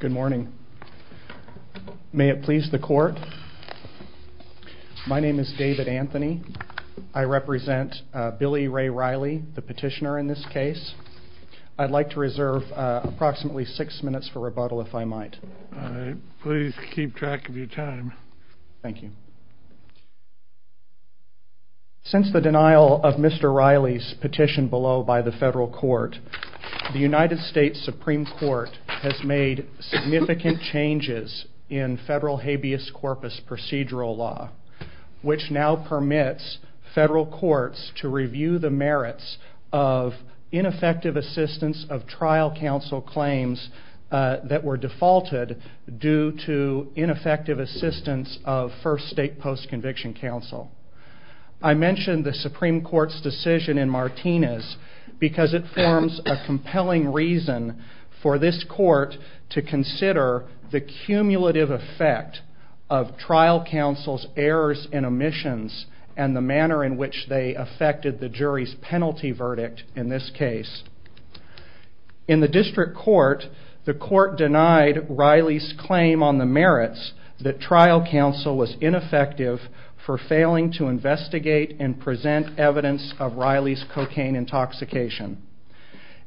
Good morning. May it please the court. My name is David Anthony. I represent Billy Ray Riley, the petitioner in this case. I'd like to reserve approximately six minutes for rebuttal if I might. Please keep track of your time. Thank you. Due to ineffective assistance of First State Post-Conviction Counsel. I mentioned the Supreme Court's decision in Martinez because it forms a compelling reason for this court to consider the cumulative effect of trial counsel's errors and omissions and the manner in which they affected the jury's penalty verdict in this case. In the district court, the court denied Riley's claim on the merits that trial counsel was ineffective for failing to investigate and present evidence of Riley's cocaine intoxication.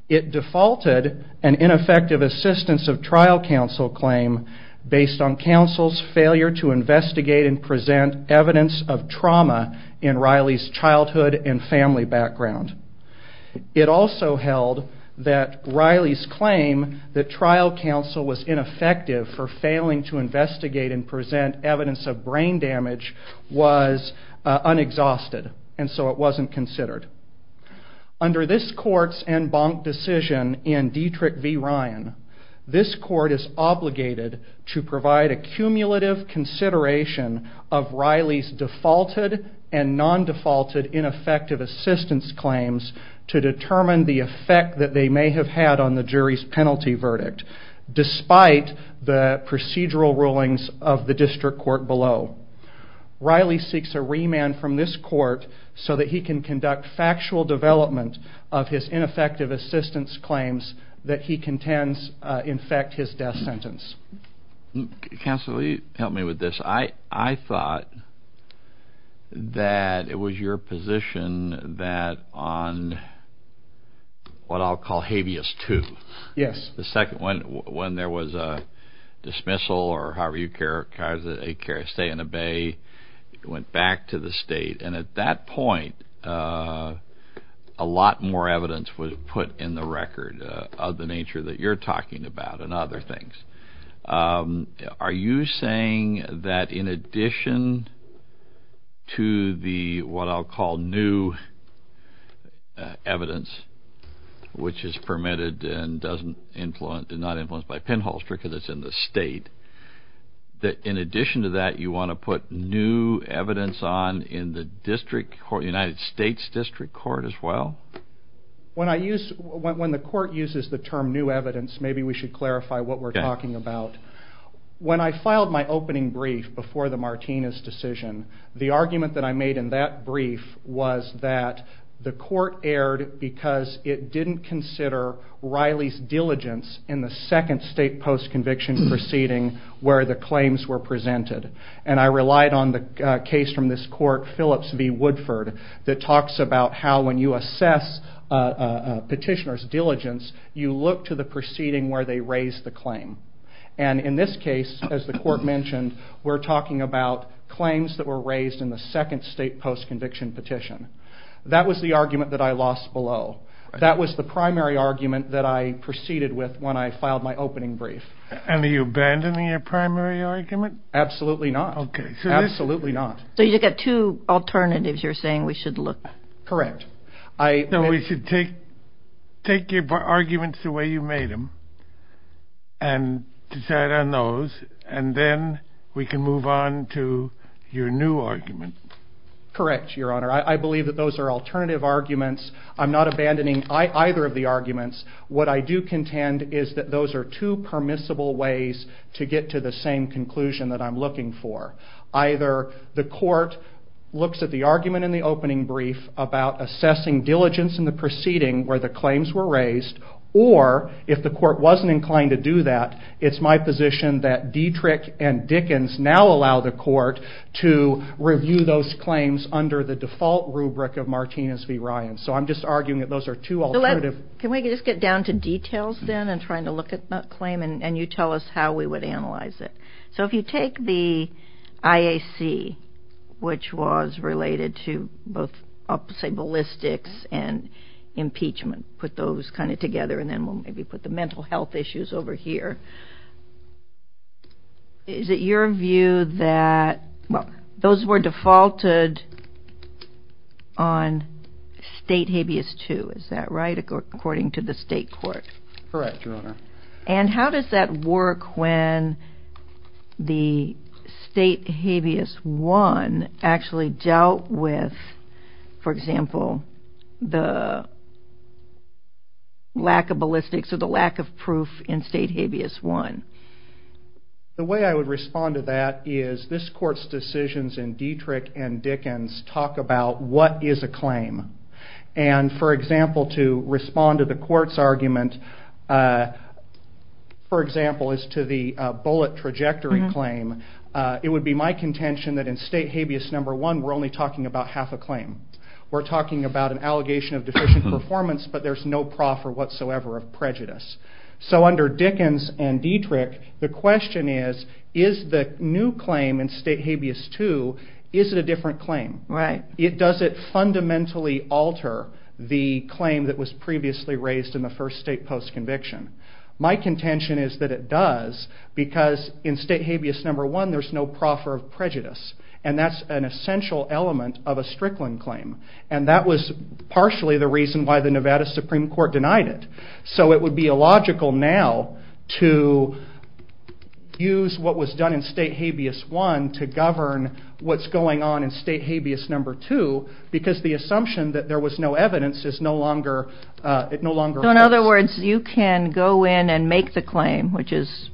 It defaulted an ineffective assistance of trial counsel claim based on counsel's failure to investigate and present evidence of trauma in Riley's childhood and family background. It also held that Riley's claim that trial counsel was ineffective for failing to investigate and present evidence of brain damage was unexhausted and so it wasn't considered. Under this court's en banc decision in Dietrich v. Ryan, this court is obligated to provide a cumulative consideration of Riley's defaulted and non-defaulted ineffective assistance claims to determine the effect that they may have had on the jury's penalty verdict despite the procedural rulings of the district court below. Riley seeks a remand from this court so that he can conduct factual development of his ineffective assistance claims that he contends infect his death sentence. I would like to ask counsel to help me with this. I thought that it was your position that on what I'll call habeas II, when there was a dismissal or however you characterize it, a stay in the bay, went back to the state. At that point, a lot more evidence was put in the record of the nature that you're talking about and other things. Are you saying that in addition to the what I'll call new evidence, which is permitted and not influenced by penholster because it's in the state, that in addition to that, you want to put new evidence on in the United States district court as well? When the court uses the term new evidence, maybe we should clarify what we're talking about. When I filed my opening brief before the Martinez decision, the argument that I made in that brief was that the court erred because it didn't consider Riley's diligence in the second state postconviction proceeding where the claims were presented. I relied on the case from this court, Phillips v. Woodford, that talks about how when you assess a petitioner's diligence, you look to the proceeding where they raise the claim. In this case, as the court mentioned, we're talking about claims that were raised in the second state postconviction petition. That was the argument that I lost below. That was the primary argument that I proceeded with when I filed my opening brief. Are you abandoning your primary argument? Absolutely not. Okay. Absolutely not. So you get two alternatives you're saying we should look at? Correct. So we should take your arguments the way you made them and decide on those, and then we can move on to your new argument. Correct, Your Honor. I believe that those are alternative arguments. I'm not abandoning either of the arguments. What I do contend is that those are two permissible ways to get to the same conclusion that I'm looking for. Either the court looks at the argument in the opening brief about assessing diligence in the proceeding where the claims were raised, or if the court wasn't inclined to do that, it's my position that Dietrich and Dickens now allow the court to review those claims under the default rubric of Martinez v. Ryan. So I'm just arguing that those are two alternatives. Can we just get down to details then in trying to look at that claim, and you tell us how we would analyze it? So if you take the IAC, which was related to both, I'll say, ballistics and impeachment, put those kind of together, and then we'll maybe put the mental health issues over here. Is it your view that those were defaulted on State Habeas II, is that right, according to the state court? And how does that work when the State Habeas I actually dealt with, for example, the lack of ballistics or the lack of proof in State Habeas I? The way I would respond to that is this court's decisions in Dietrich and Dickens talk about what is a claim. And for example, to respond to the court's argument, for example, as to the bullet trajectory claim, it would be my contention that in State Habeas I, we're only talking about half a claim. We're talking about an allegation of deficient performance, but there's no proffer whatsoever of prejudice. So under Dickens and Dietrich, the question is, is the new claim in State Habeas II, is it a different claim? Does it fundamentally alter the claim that was previously raised in the first state post-conviction? My contention is that it does, because in State Habeas I, there's no proffer of prejudice. And that's an essential element of a Strickland claim. And that was partially the reason why the Nevada Supreme Court denied it. So it would be illogical now to use what was done in State Habeas I to govern what's going on in State Habeas II, because the assumption that there was no evidence is no longer valid. In other words, you can go in and make the claim, which is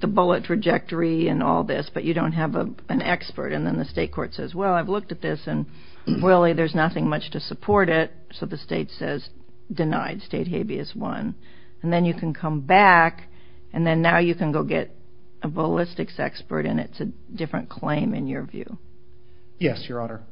the bullet trajectory and all this, but you don't have an expert. And then the state court says, well, I've looked at this, and really there's nothing much to support it. So the state says, denied State Habeas I. And then you can come back, and then now you can go get a ballistics expert, and it's a different claim in your view. Yes, Your Honor.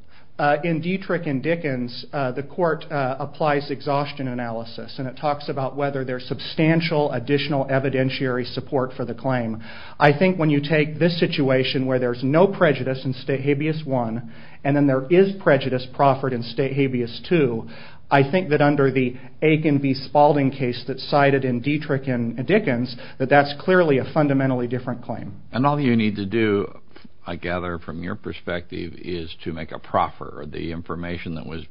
In Dietrich and Dickens, the court applies exhaustion analysis, and it talks about whether there's substantial additional evidentiary support for the claim. I think when you take this situation where there's no prejudice in State Habeas I, and then there is prejudice proffered in State Habeas II, I think that under the Aitken v. Spalding case that's cited in Dietrich and Dickens, that that's clearly a fundamentally different claim. And all you need to do, I gather from your perspective, is to make a proffer. The information that was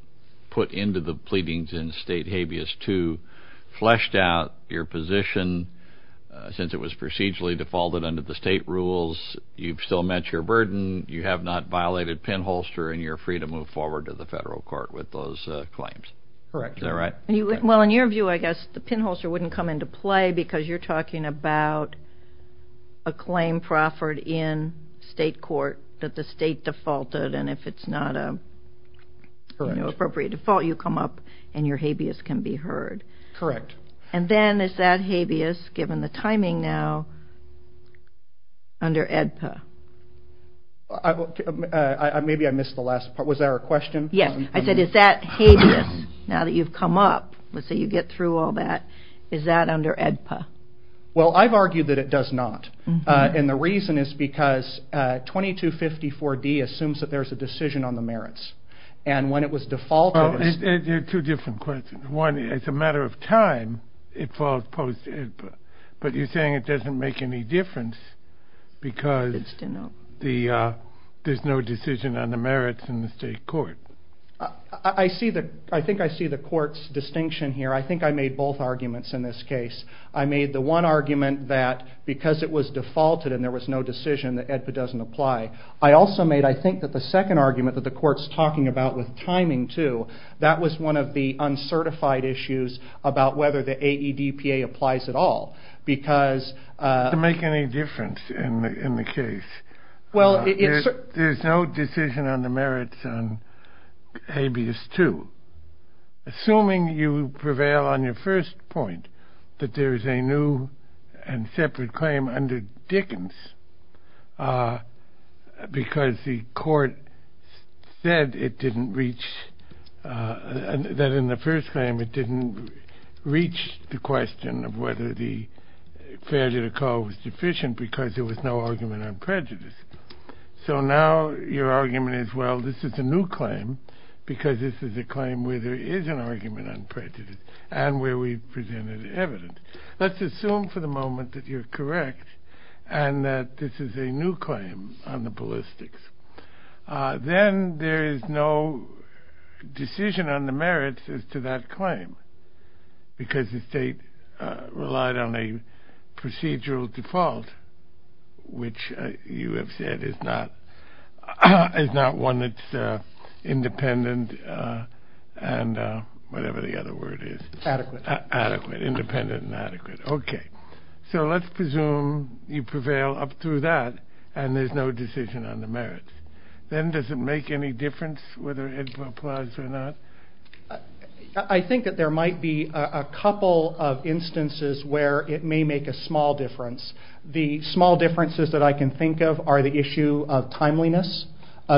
put into the pleadings in State Habeas II fleshed out your position. Since it was procedurally defaulted under the state rules, you've still met your burden. You have not violated pinholster, and you're free to move forward to the federal court with those claims. Correct. Is that right? Well, in your view, I guess the pinholster wouldn't come into play, because you're talking about a claim proffered in state court that the state defaulted, and if it's not an appropriate default, you come up and your habeas can be heard. Correct. And then is that habeas, given the timing now, under AEDPA? Maybe I missed the last part. Was there a question? Yes. I said, is that habeas, now that you've come up, now that you get through all that, is that under AEDPA? Well, I've argued that it does not. And the reason is because 2254D assumes that there's a decision on the merits. And when it was defaulted- Well, two different questions. One, as a matter of time, it falls post AEDPA. But you're saying it doesn't make any difference because there's no decision on the merits in the state court. I think I see the court's distinction here. I think I made both arguments in this case. I made the one argument that because it was defaulted and there was no decision, that AEDPA doesn't apply. I also made, I think, the second argument that the court's talking about with timing, too. That was one of the uncertified issues about whether the AEDPA applies at all because- Does it make any difference in the case? Well, it's- There's no decision on the merits on habeas, too. Assuming you prevail on your first point, that there is a new and separate claim under Dickens because the court said it didn't reach- that in the first claim it didn't reach the question of whether the failure to call was sufficient because there was no argument on prejudice. So now your argument is, well, this is a new claim because this is a claim where there is an argument on prejudice and where we presume there's evidence. Let's assume for the moment that you're correct and that this is a new claim on the ballistics. Then there is no decision on the merits as to that claim because the state relied on a procedural default, which you have said is not one that's independent and whatever the other word is. Adequate. Adequate. Independent and adequate. Okay. So let's presume you prevail up through that and there's no decision on the merits. Then does it make any difference whether AEDPA applies or not? I think that there might be a couple of instances where it may make a small difference. The small differences that I can think of are the issue of timeliness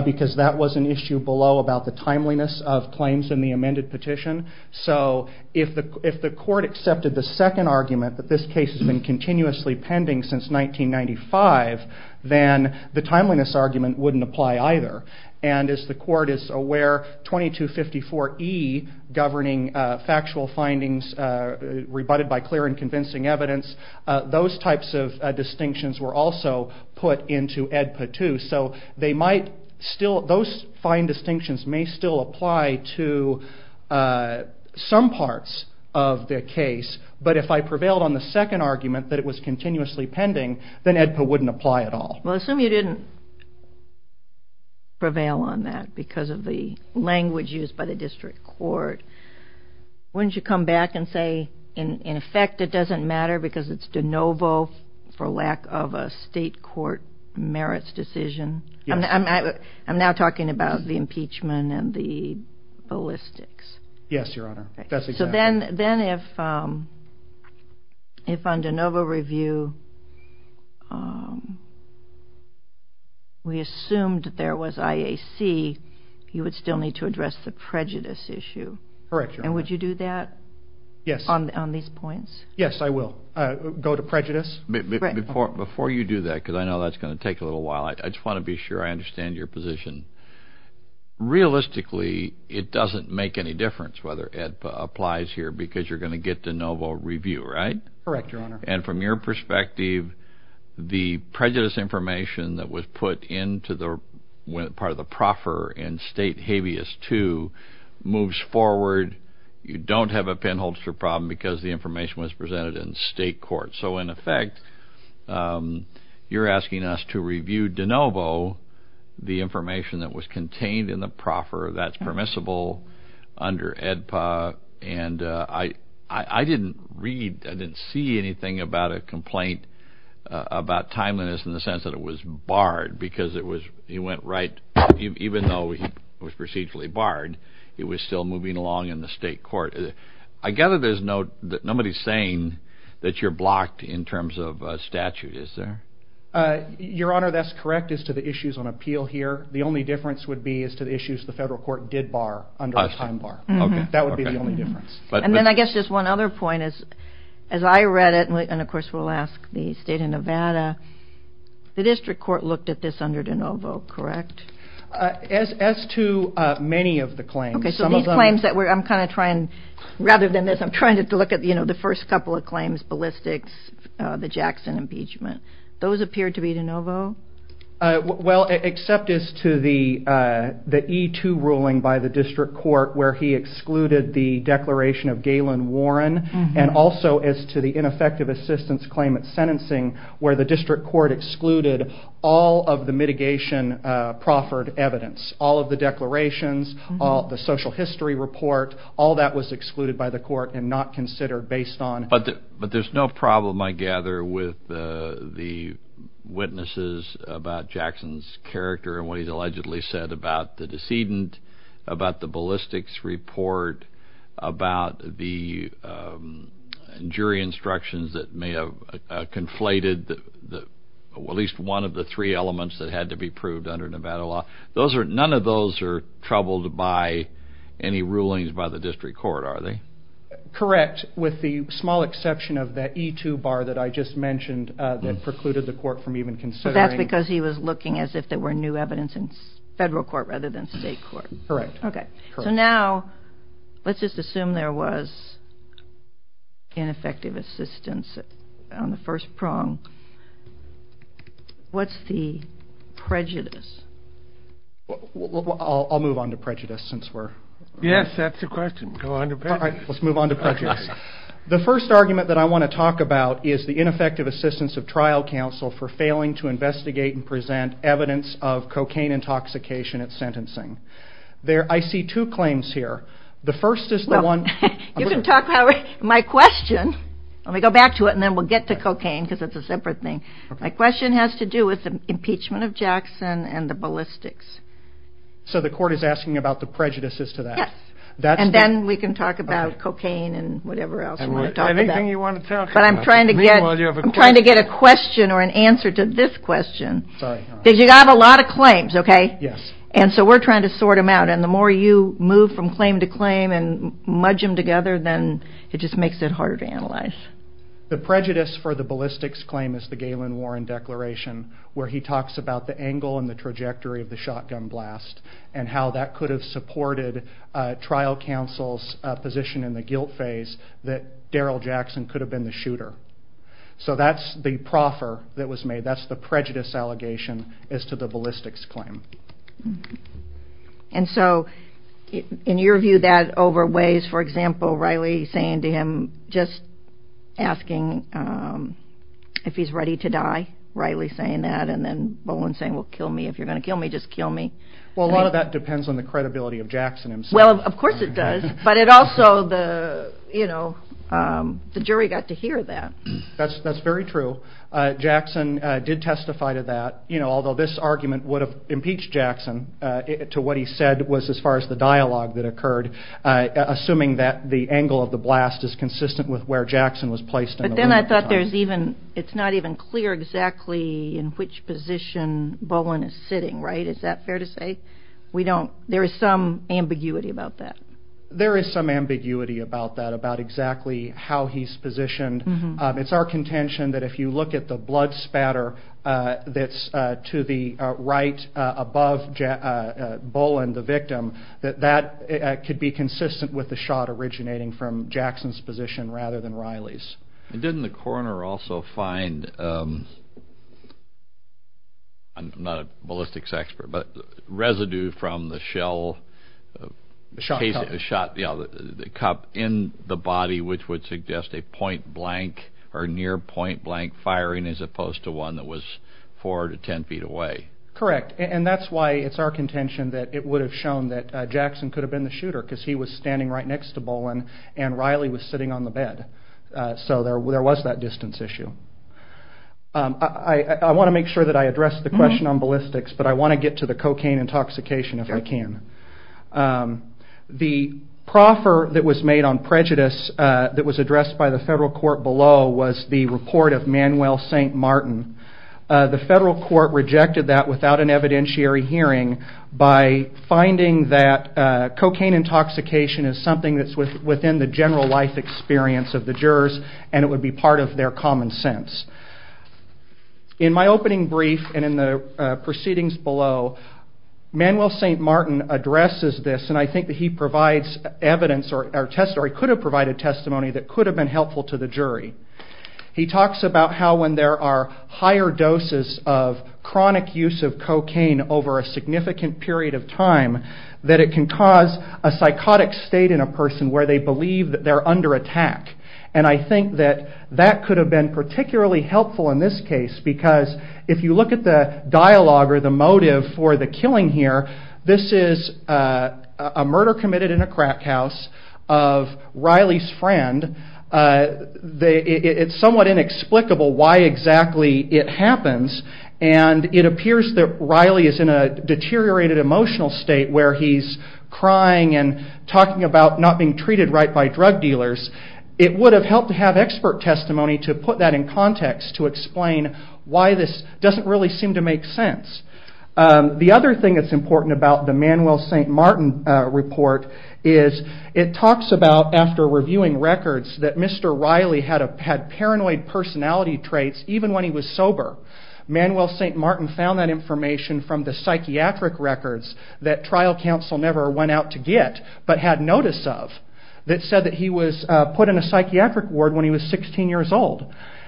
because that was an issue below about the timeliness of claims in the amended petition. So if the court accepted the second argument that this case has been continuously pending since 1995, then the timeliness argument wouldn't apply either. And as the court is aware, 2254E governing factual findings rebutted by clear and convincing evidence, those types of distinctions were also put into AEDPA too. So those fine distinctions may still apply to some parts of the case, but if I prevailed on the second argument that it was continuously pending, then AEDPA wouldn't apply at all. Well, assume you didn't prevail on that because of the language used by the district court. Wouldn't you come back and say in effect it doesn't matter because it's de novo for lack of a state court merits decision? I'm now talking about the impeachment and the ballistics. Yes, Your Honor. That's exactly right. Then if on de novo review we assumed there was IAC, you would still need to address the prejudice issue. Correct, Your Honor. And would you do that on these points? Yes, I will go to prejudice. Before you do that, because I know that's going to take a little while, I just want to be sure I understand your position. Realistically, it doesn't make any difference whether AEDPA applies here because you're going to get de novo review, right? Correct, Your Honor. And from your perspective, the prejudice information that was put into part of the proffer in State Habeas II moves forward. You don't have a penholster problem because the information was presented in state court. So in effect, you're asking us to review de novo the information that was contained in the proffer that's permissible under AEDPA. And I didn't read, I didn't see anything about a complaint about timeliness in the sense that it was barred because it was, he went right, even though he was procedurally barred, it was still moving along in the state court. I gather there's no, nobody's saying that you're blocked in terms of statute, is there? Your Honor, that's correct as to the issues on appeal here. The only difference would be as to the issues the federal court did bar under the time bar. That would be the only difference. And then I guess just one other point is, as I read it, and of course we'll ask the state of Nevada, the district court looked at this under de novo, correct? As to many of the claims. Okay, so these claims that we're, I'm kind of trying, rather than this, I'm trying to look at the first couple of claims, ballistics, the Jackson impeachment. Those appear to be de novo? Well, except as to the E-2 ruling by the district court where he excluded the declaration of Galen Warren, and also as to the ineffective assistance claim at sentencing where the district court excluded all of the mitigation proffered evidence, all of the declarations, the social history report, all that was excluded by the court and not considered based on. But there's no problem, I gather, with the witnesses about Jackson's character and what he's allegedly said about the decedent, about the ballistics report, about the jury instructions that may have conflated at least one of the three elements that had to be proved under Nevada law. None of those are troubled by any rulings by the district court, are they? Correct, with the small exception of that E-2 bar that I just mentioned that precluded the court from even considering. But that's because he was looking as if there were new evidence in federal court rather than state court. Correct. Okay, so now let's just assume there was ineffective assistance on the first prong. What's the prejudice? I'll move on to prejudice since we're... Yes, that's the question, go on to prejudice. All right, let's move on to prejudice. The first argument that I want to talk about is the ineffective assistance of trial counsel for failing to investigate and present evidence of cocaine intoxication at sentencing. I see two claims here. The first is the one... You can talk about my question. Let me go back to it and then we'll get to cocaine because it's a separate thing. My question has to do with the impeachment of Jackson and the ballistics. So the court is asking about the prejudices to that. Yes, and then we can talk about cocaine and whatever else you want to talk about. Anything you want to talk about. But I'm trying to get a question or an answer to this question. Because you have a lot of claims, okay? Yes. And so we're trying to sort them out. And the more you move from claim to claim and mudge them together, then it just makes it harder to analyze. The prejudice for the ballistics claim is the Galen Warren Declaration where he talks about the angle and the trajectory of the shotgun blast and how that could have supported trial counsel's position in the guilt phase that Daryl Jackson could have been the shooter. So that's the proffer that was made. That's the prejudice allegation as to the ballistics claim. And so in your view, that overweighs, for example, Riley saying to him, just asking if he's ready to die, Riley saying that, and then Bowen saying, well, kill me. If you're going to kill me, just kill me. Well, a lot of that depends on the credibility of Jackson himself. Well, of course it does, but also the jury got to hear that. That's very true. Jackson did testify to that, although this argument would have impeached Jackson to what he said was as far as the dialogue that occurred, assuming that the angle of the blast is consistent with where Jackson was placed. But then I thought it's not even clear exactly in which position Bowen is sitting, right? Is that fair to say? There is some ambiguity about that. There is some ambiguity about that, about exactly how he's positioned. It's our contention that if you look at the blood spatter that's to the right above Bowen, the victim, that that could be consistent with the shot originating from Jackson's position rather than Riley's. Didn't the coroner also find, I'm not a ballistics expert, but residue from the shell, the cup in the body, which would suggest a point-blank or near-point-blank firing as opposed to one that was four to ten feet away? Correct. And that's why it's our contention that it would have shown that Jackson could have been the shooter because he was standing right next to Bowen and Riley was sitting on the bed. So there was that distance issue. I want to make sure that I address the question on ballistics, but I want to get to the cocaine intoxication if I can. The proffer that was made on prejudice that was addressed by the federal court below was the report of Manuel St. Martin. The federal court rejected that without an evidentiary hearing by finding that cocaine intoxication is something that's within the general life experience of the jurors and it would be part of their common sense. In my opening brief and in the proceedings below, Manuel St. Martin addresses this, and I think that he provides evidence or he could have provided testimony that could have been helpful to the jury. He talks about how when there are higher doses of chronic use of cocaine over a significant period of time, that it can cause a psychotic state in a person where they believe that they're under attack. And I think that that could have been particularly helpful in this case because if you look at the dialogue or the motive for the killing here, this is a murder committed in a crack house of Riley's friend. It's somewhat inexplicable why exactly it happens and it appears that Riley is in a deteriorated emotional state where he's crying and talking about not being treated right by drug dealers. It would have helped to have expert testimony to put that in context to explain why this doesn't really seem to make sense. The other thing that's important about the Manuel St. Martin report is it talks about, after reviewing records, that Mr. Riley had paranoid personality traits even when he was sober. Manuel St. Martin found that information from the psychiatric records that trial counsel never went out to get but had notice of that said that he was put in a psychiatric ward when he was 16 years old.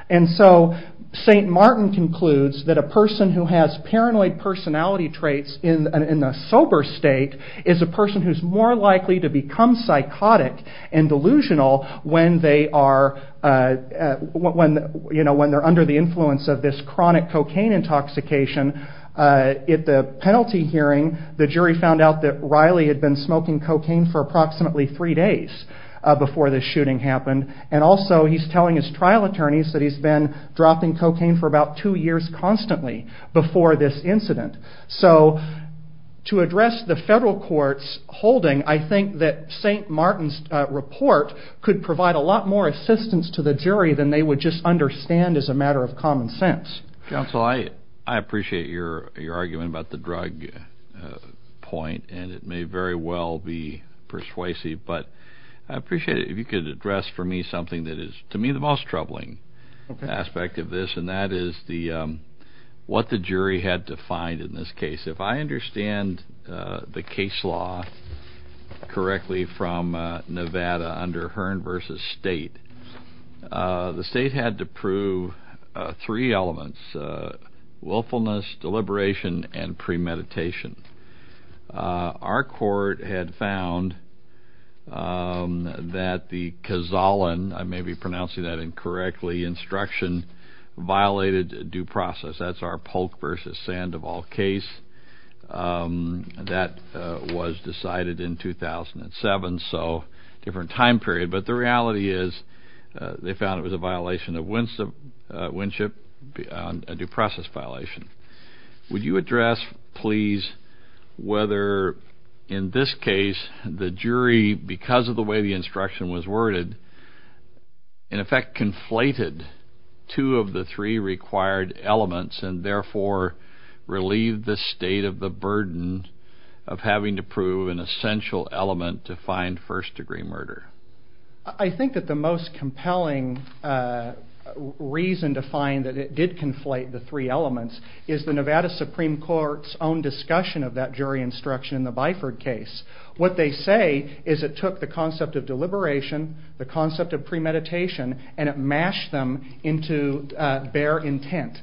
And so St. Martin concludes that a person who has paranoid personality traits in a sober state is a person who's more likely to become psychotic and delusional when they're under the influence of this chronic cocaine intoxication. At the penalty hearing, the jury found out that Riley had been smoking cocaine for approximately three days before the shooting happened and also he's telling his trial attorneys that he's been dropping cocaine for about two years constantly before this incident. So to address the federal court's holding, I think that St. Martin's report could provide a lot more assistance to the jury than they would just understand as a matter of common sense. Counsel, I appreciate your argument about the drug point, and it may very well be persuasive, but I appreciate it if you could address for me something that is, to me, the most troubling aspect of this, and that is what the jury had to find in this case. If I understand the case law correctly from Nevada under Hearn v. State, the state had to prove three elements, willfulness, deliberation, and premeditation. Our court had found that the Kozalan, I may be pronouncing that incorrectly, that the instruction violated due process. That's our Polk v. Sandoval case. That was decided in 2007, so different time period. But the reality is they found it was a violation of winship, a due process violation. Would you address, please, whether in this case the jury, because of the way the instruction was worded, in effect conflated two of the three required elements and therefore relieved the state of the burden of having to prove an essential element to find first-degree murder? I think that the most compelling reason to find that it did conflate the three elements is the Nevada Supreme Court's own discussion of that jury instruction in the Byford case. What they say is it took the concept of deliberation, the concept of premeditation, and it mashed them into bare intent.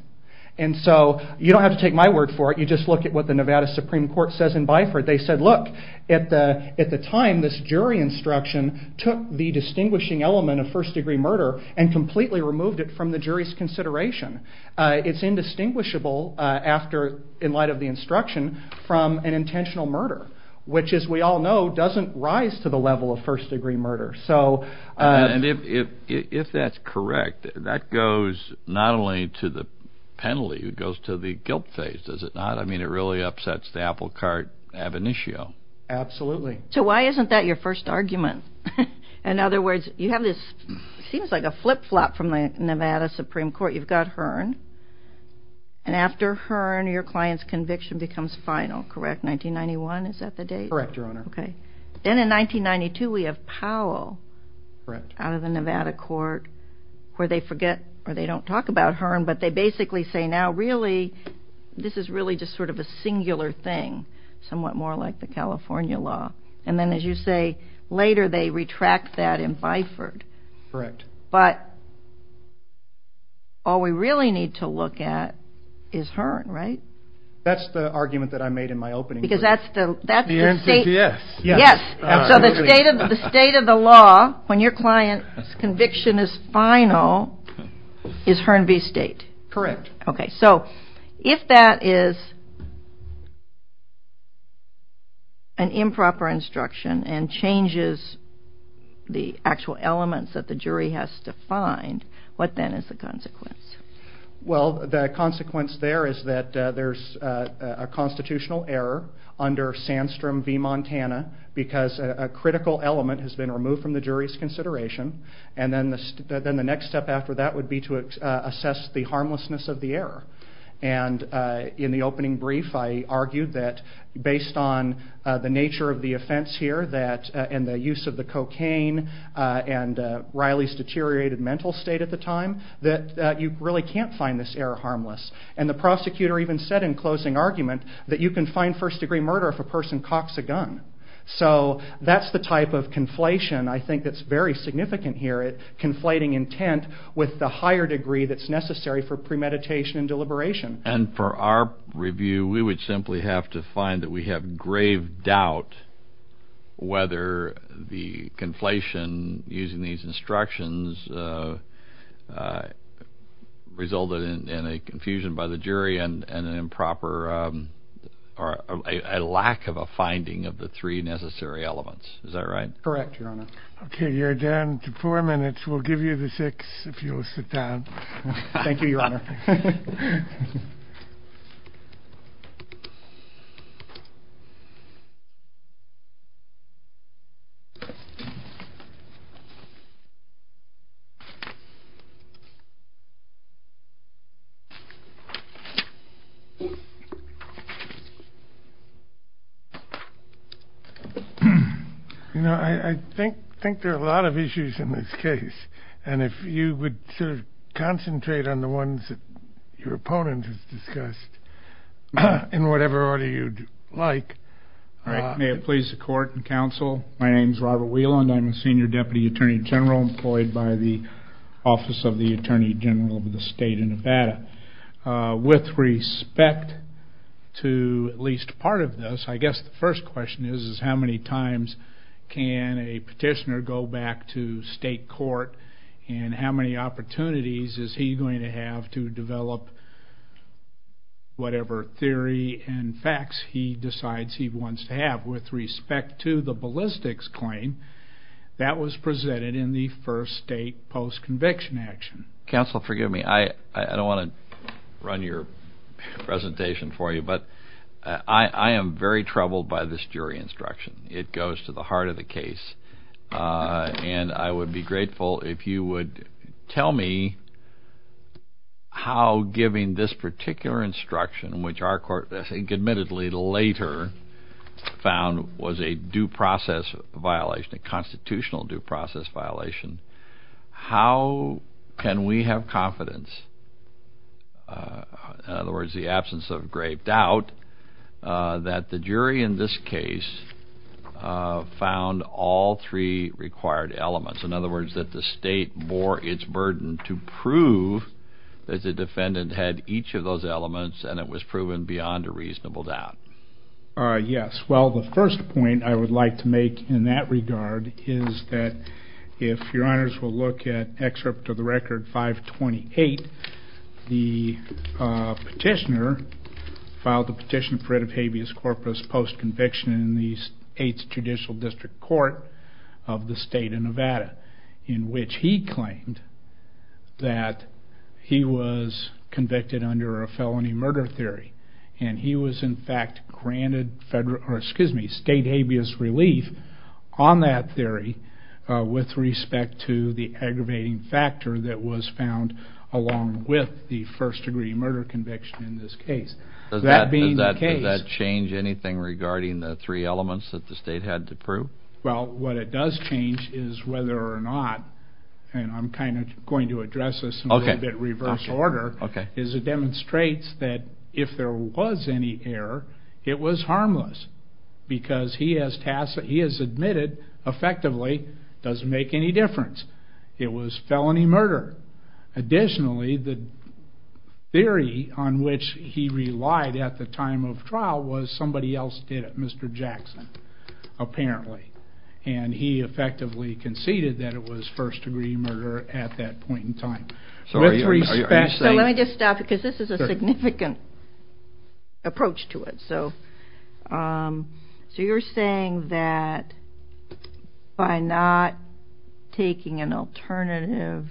And so you don't have to take my word for it. You just look at what the Nevada Supreme Court says in Byford. They said, look, at the time this jury instruction took the distinguishing element of first-degree murder and completely removed it from the jury's consideration. It's indistinguishable in light of the instruction from an intentional murder, which, as we all know, doesn't rise to the level of first-degree murder. And if that's correct, that goes not only to the penalty, it goes to the guilt phase, does it not? I mean, it really upsets the apple cart ab initio. Absolutely. So why isn't that your first argument? In other words, you have this, it seems like a flip-flop from the Nevada Supreme Court. You've got Hearn, and after Hearn your client's conviction becomes final, correct? In 1991, is that the date? Correct, Your Honor. Okay. Then in 1992 we have Powell out of the Nevada court where they forget, or they don't talk about Hearn, but they basically say, now, really, this is really just sort of a singular thing, somewhat more like the California law. And then, as you say, later they retract that in Byford. Correct. But all we really need to look at is Hearn, right? That's the argument that I made in my opening. Because that's the state. Yes. So the state of the law when your client's conviction is final is Hearn v. State. Correct. Okay. So if that is an improper instruction and changes the actual elements that the jury has defined, what then is the consequence? Well, the consequence there is that there's a constitutional error under Sandstrom v. Montana because a critical element has been removed from the jury's consideration, and then the next step after that would be to assess the harmlessness of the error. And in the opening brief I argued that based on the nature of the offense here and the use of the cocaine and Riley's deteriorated mental state at the time, that you really can't find this error harmless. And the prosecutor even said in closing argument that you can find first-degree murder if a person cocks a gun. So that's the type of conflation I think that's very significant here, conflating intent with the higher degree that's necessary for premeditation and deliberation. And for our review, we would simply have to find that we have grave doubt whether the conflation using these instructions resulted in a confusion by the jury and an improper or a lack of a finding of the three necessary elements. Is that right? Correct, Your Honor. Okay. You're down to four minutes. We'll give you the six if you'll sit down. Thank you, Your Honor. Thank you. You know, I think there are a lot of issues in this case. And if you would sort of concentrate on the ones that your opponent has discussed in whatever order you'd like. May it please the court and counsel, my name is Robert Whelan. I'm a senior deputy attorney general employed by the Office of the Attorney General of the State of Nevada. With respect to at least part of this, I guess the first question is, how many times can a petitioner go back to state court and how many opportunities is he going to have to develop whatever theory and facts he decides he wants to have. With respect to the ballistics claim, that was presented in the first state post-conviction action. Counsel, forgive me, I don't want to run your presentation for you, but I am very troubled by this jury instruction. It goes to the heart of the case. And I would be grateful if you would tell me how giving this particular instruction, which our court, I think, admittedly later found was a due process violation, a constitutional due process violation, how can we have confidence, in other words, the absence of great doubt, that the jury in this case found all three required elements. In other words, that the state bore its burden to prove that the defendant had each of those elements and it was proven beyond a reasonable doubt. Yes, well, the first point I would like to make in that regard is that if your honors will look at excerpt of the record 528, the petitioner filed the petition for writ of habeas corpus post-conviction in the 8th Judicial District Court of the state of Nevada, in which he claimed that he was convicted under a felony murder theory. And he was, in fact, granted state habeas relief on that theory with respect to the aggravating factor that was found along with the first degree murder conviction in this case. Does that change anything regarding the three elements that the state had to prove? Well, what it does change is whether or not, and I'm kind of going to address this in a little bit reverse order, is it demonstrates that if there was any error, it was harmless because he has admitted effectively it doesn't make any difference. It was felony murder. Additionally, the theory on which he relied at the time of trial was somebody else did it, Mr. Jackson, apparently. And he effectively conceded that it was first degree murder at that point in time. So let me just stop because this is a significant approach to it. So you're saying that by not taking an alternative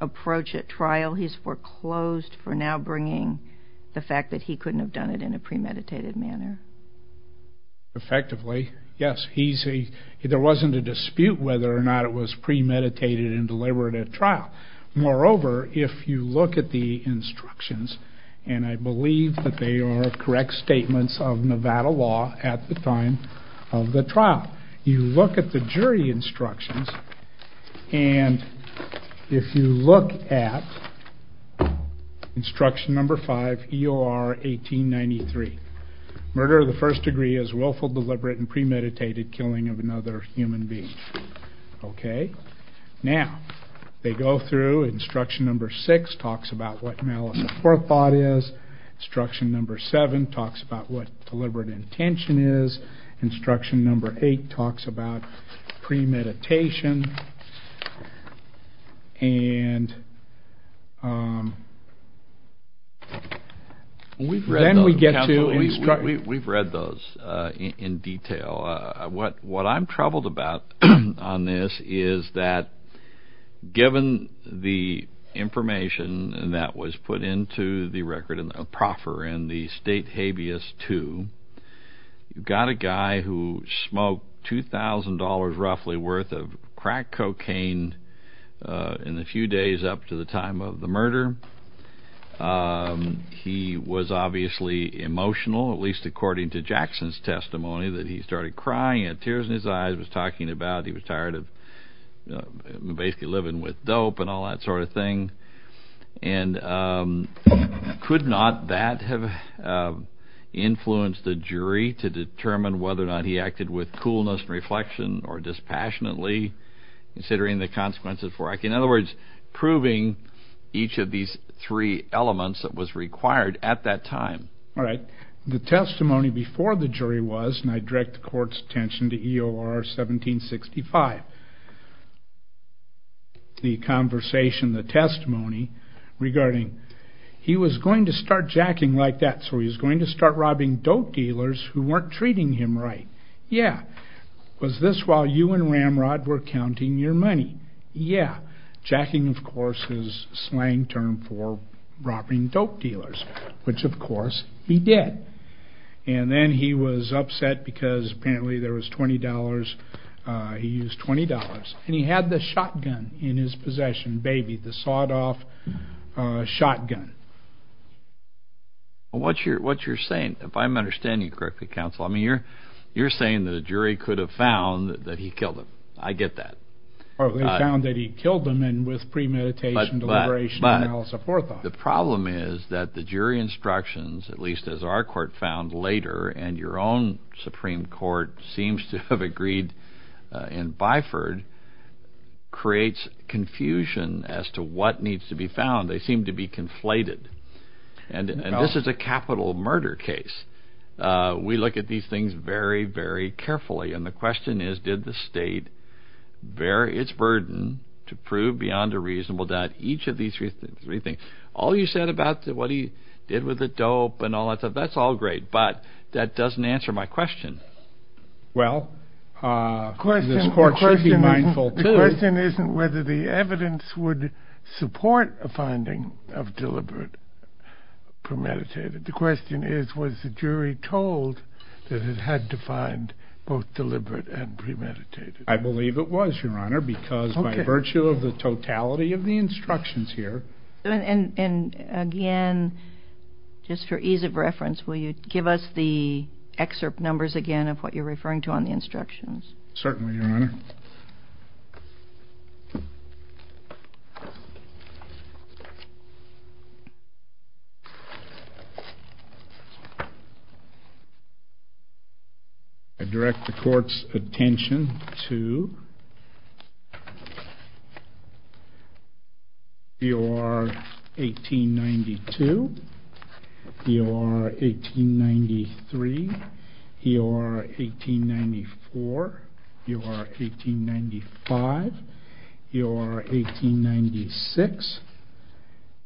approach at trial, he's foreclosed for now bringing the fact that he couldn't have done it in a premeditated manner? Effectively, yes. There wasn't a dispute whether or not it was premeditated and deliberate at trial. Moreover, if you look at the instructions, and I believe that they are correct statements of Nevada law at the time of the trial. You look at the jury instructions, and if you look at instruction number five, EOR 1893, murder of the first degree is willful, deliberate, and premeditated killing of another human being. Okay? Now, they go through instruction number six, talks about what malice of forethought is. Instruction number seven talks about what deliberate intention is. Instruction number eight talks about premeditation. We've read those in detail. What I'm troubled about on this is that given the information that was put into the record, a proffer in the State Habeas II, you've got a guy who smoked $2,000 roughly worth of crack, cocaine in the few days up to the time of the murder. He was obviously emotional, at least according to Jackson's testimony, that he started crying. He had tears in his eyes. He was talking about he was tired of basically living with dope and all that sort of thing. And could not that have influenced the jury to determine whether or not he acted with coolness and reflection or dispassionately, considering the consequences for acting? In other words, proving each of these three elements that was required at that time. All right. The testimony before the jury was, and I direct the court's attention to EOR 1765, the conversation, the testimony regarding he was going to start jacking like that, so he was going to start robbing dope dealers who weren't treating him right. Yeah. Was this while you and Ramrod were counting your money? Jacking, of course, is a slang term for robbing dope dealers, which, of course, he did. And then he was upset because apparently there was $20. He used $20. And he had the shotgun in his possession, baby, the sawed-off shotgun. What you're saying, if I'm understanding you correctly, counsel, I mean, you're saying the jury could have found that he killed him. I get that. Or they found that he killed him and with premeditation, deliberation, and all that. But the problem is that the jury instructions, at least as our court found later, and your own Supreme Court seems to have agreed in Byford, creates confusion as to what needs to be found. They seem to be conflated. And this is a capital murder case. We look at these things very, very carefully. And the question is, did the state bear its burden to prove beyond a reasonable doubt each of these three things? All you said about what he did with the dope and all that stuff, that's all great. But that doesn't answer my question. Well, the question isn't whether the evidence would support a finding of deliberate premeditation. The question is, was the jury told that it had to find both deliberate and premeditated? I believe it was, Your Honor, because by virtue of the totality of the instructions here. And again, just for ease of reference, will you give us the excerpt numbers again of what you're referring to on the instructions? Certainly, Your Honor. I direct the court's attention to EOR 1892, EOR 1893, EOR 1894, EOR 1895, EOR 1896,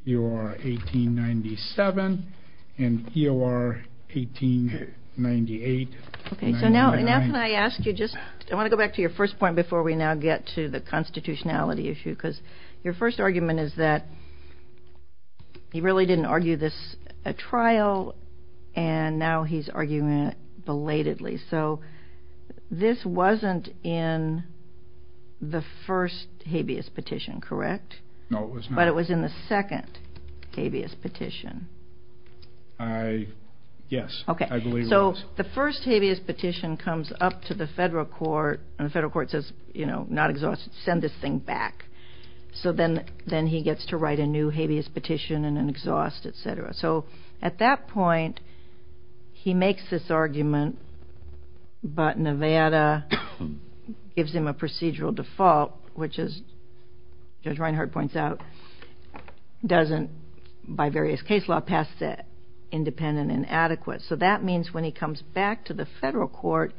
EOR 1897, and EOR 1898. Okay, so now can I ask you just, I want to go back to your first point before we now get to the constitutionality issue. Because your first argument is that he really didn't argue this trial, and now he's arguing it belatedly. So this wasn't in the first habeas petition, correct? No, it was not. It was in the second habeas petition. Yes, I believe it was. Okay, so the first habeas petition comes up to the federal court, and the federal court says, you know, not exhaustive, send this thing back. So then he gets to write a new habeas petition and then exhaust, et cetera. So at that point, he makes this argument, but Nevada gives him a procedural default, which is, as Reinhart points out, doesn't, by various case law, pass it independent and adequate. So that means when he comes back to the federal court,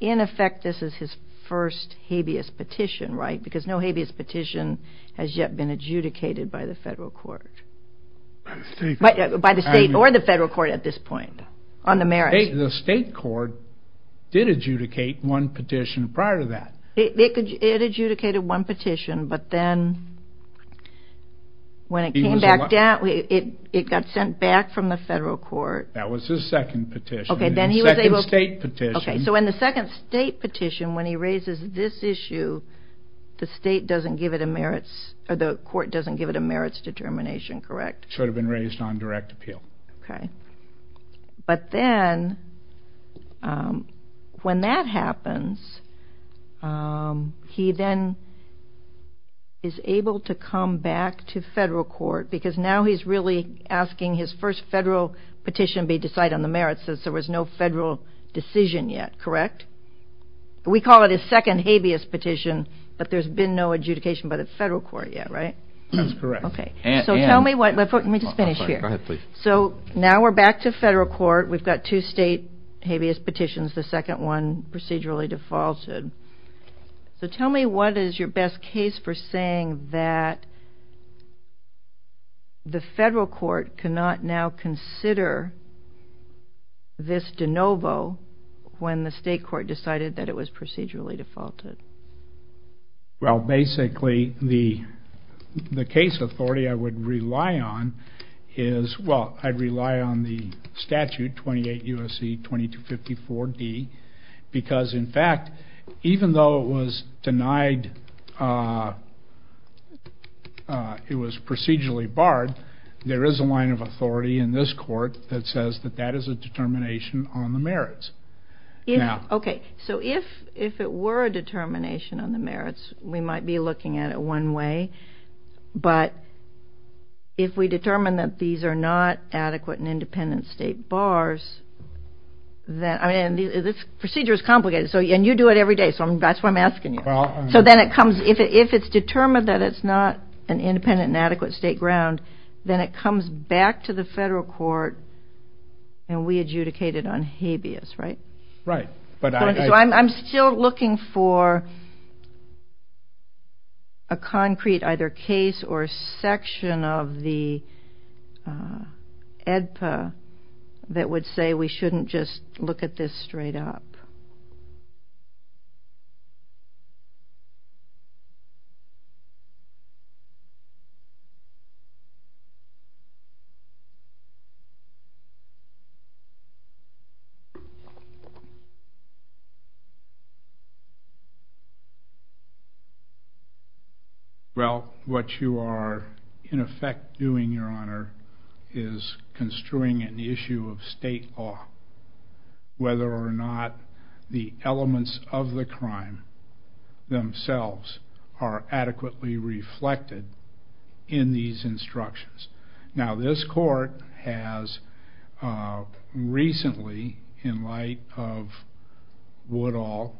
in effect, this is his first habeas petition, right? Because no habeas petition has yet been adjudicated by the federal court. By the state or the federal court at this point, on the merits. The state court did adjudicate one petition prior to that. It adjudicated one petition, but then when it came back down, it got sent back from the federal court. That was his second petition. Second state petition. When he raises this issue, the state doesn't give it a merits, or the court doesn't give it a merits determination, correct? Should have been raised on direct appeal. Okay. But then, when that happens, he then is able to come back to federal court, because now he's really asking his first federal petition be decided on the merits since there was no federal decision yet, correct? We call it his second habeas petition, but there's been no adjudication by the federal court yet, right? That's correct. Okay. Let me just finish here. Go ahead, please. So now we're back to federal court. We've got two state habeas petitions. The second one procedurally defaulted. So tell me what is your best case for saying that the federal court cannot now consider this de novo when the state court decided that it was procedurally defaulted? Well, basically, the case authority I would rely on is, well, I'd rely on the statute, 28 U.S.C. 2254-D, because, in fact, even though it was procedurally barred, there is a line of authority in this court that says that that is a determination on the merits. Okay. So if it were a determination on the merits, we might be looking at it one way. But if we determine that these are not adequate and independent state bars, I mean, this procedure is complicated, and you do it every day, so that's why I'm asking you. So then it comes, if it's determined that it's not an independent and adequate state ground, then it comes back to the federal court, and we adjudicate it on habeas, right? Right. I'm still looking for a concrete either case or section of the EDPA that would say we shouldn't just look at this straight up. Well, what you are, in effect, doing, Your Honor, is construing an issue of state law, whether or not the elements of the crime themselves are adequately reflected in these instructions. Now, this court has recently, in light of Woodall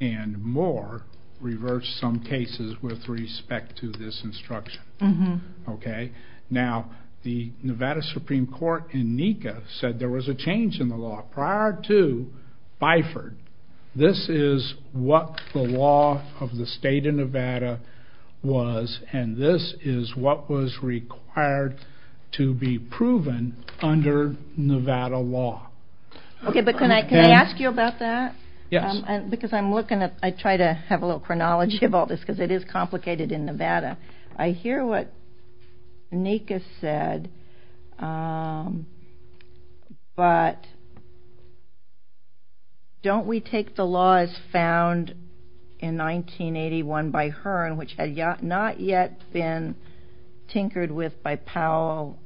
and Moore, reversed some cases with respect to this instruction. Okay. Now, the Nevada Supreme Court in NECA said there was a change in the law prior to Biford. This is what the law of the state of Nevada was, and this is what was required to be proven under Nevada law. Okay, but can I ask you about that? Yes. Because I'm looking at, I try to have a little chronology about this, because it is complicated in Nevada. I hear what NECA said, but don't we take the law as found in 1981 by Hearn, which had not yet been tinkered with by Powell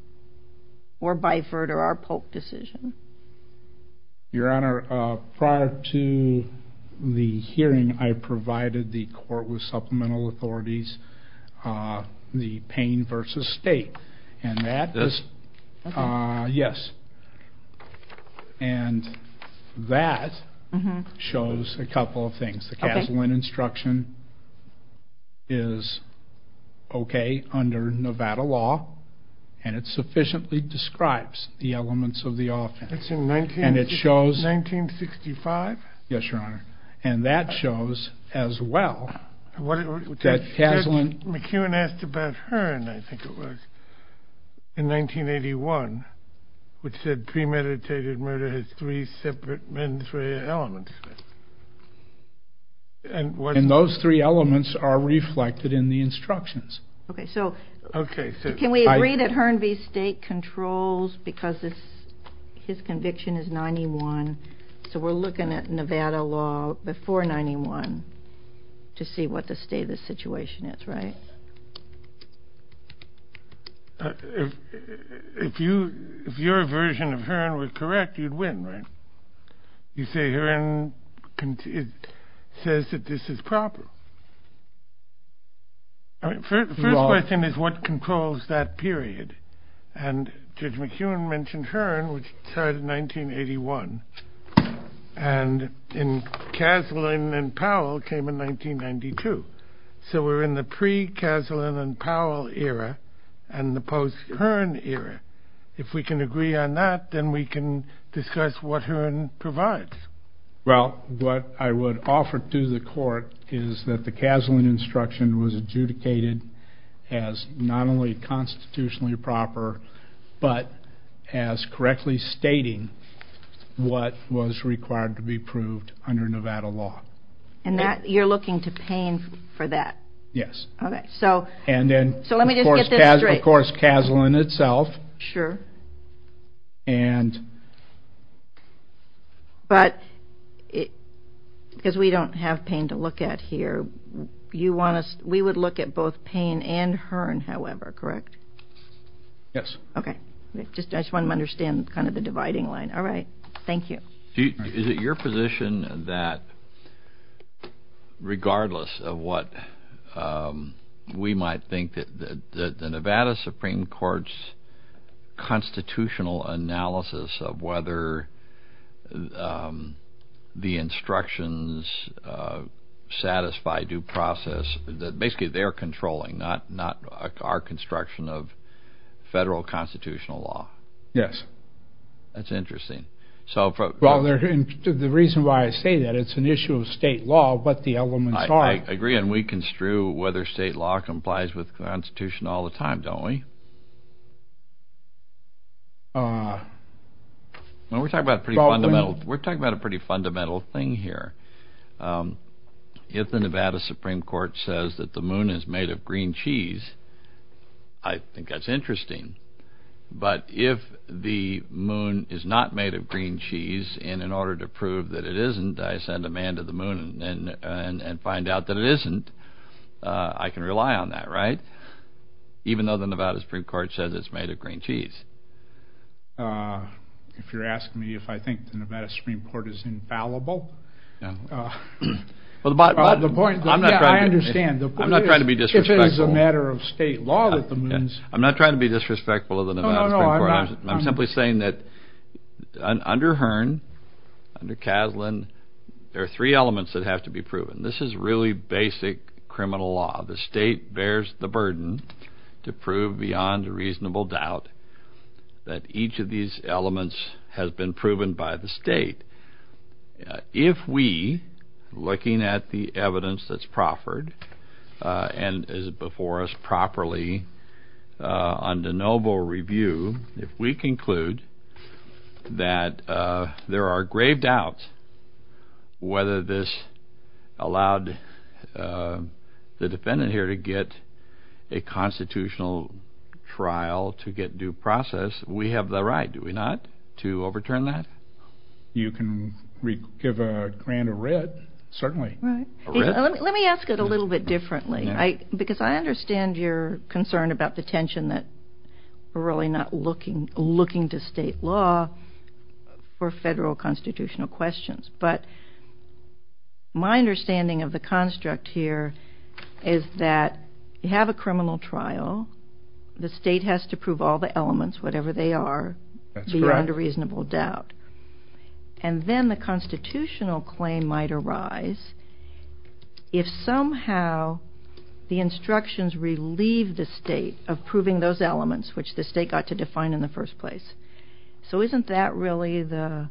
or Biford or our Polk decision? Your Honor, prior to the hearing, I provided the court with supplemental authorities, the pain versus state, and that is, yes, and that shows a couple of things. The Kaslan instruction is okay under Nevada law, and it sufficiently describes the elements of the offense. It's in 1965? Yes, Your Honor. And that shows as well that Kaslan... McEwen asked about Hearn, I think it was, in 1981, which said premeditated murder has three separate mens rea elements. And those three elements are reflected in the instructions. Okay, so can we agree that Hearn v. State controls because his conviction is 91, so we're looking at Nevada law before 91 to see what the state of the situation is, right? If your version of Hearn was correct, you'd win, right? You say Hearn says that this is proper. The first question is what controls that period, and Judge McEwen mentioned Hearn, which started in 1981, and Kaslan and Powell came in 1992. So we're in the pre-Kaslan and Powell era and the post-Hearn era. If we can agree on that, then we can discuss what Hearn provides. Well, what I would offer to the court is that the Kaslan instruction was adjudicated as not only constitutionally proper, but as correctly stating what was required to be proved under Nevada law. And you're looking to Payne for that? Yes. Okay. So let me just get this straight. And then, of course, Kaslan itself. Sure. And? But because we don't have Payne to look at here, we would look at both Payne and Hearn, however, correct? Yes. Okay. I just wanted to understand kind of the dividing line. All right. Thank you. Is it your position that regardless of what we might think, that the Nevada Supreme Court's constitutional analysis of whether the instructions satisfy due process, that basically they're controlling, not our construction of federal constitutional law? Yes. That's interesting. Well, the reason why I say that, it's an issue of state law, but the elements are. I agree. And we construe whether state law complies with the Constitution all the time, don't we? Well, we're talking about a pretty fundamental thing here. If the Nevada Supreme Court says that the moon is made of green cheese, I think that's interesting. But if the moon is not made of green cheese, and in order to prove that it isn't, I send a man to the moon and find out that it isn't, I can rely on that, right? Even though the Nevada Supreme Court says it's made of green cheese. If you're asking me if I think the Nevada Supreme Court is infallible, I understand. I'm not trying to be disrespectful. If it is a matter of state law that the moon is. I'm not trying to be disrespectful of the Nevada Supreme Court. I'm simply saying that under Hearn, under Kaslan, there are three elements that have to be proven. This is really basic criminal law. The state bears the burden to prove beyond reasonable doubt that each of these elements has been proven by the state. If we, looking at the evidence that's proffered and is before us properly under noble review, if we conclude that there are grave doubts whether this allowed the defendant here to get a constitutional trial to get due process, we have the right, do we not, to overturn that? You can give a grand of red, certainly. Let me ask it a little bit differently. Because I understand your concern about the tension that we're really not looking to state law for federal constitutional questions. But my understanding of the construct here is that you have a criminal trial. The state has to prove all the elements, whatever they are, beyond a reasonable doubt. And then the constitutional claim might arise if somehow the instructions relieve the state of proving those elements which the state got to define in the first place. So isn't that really the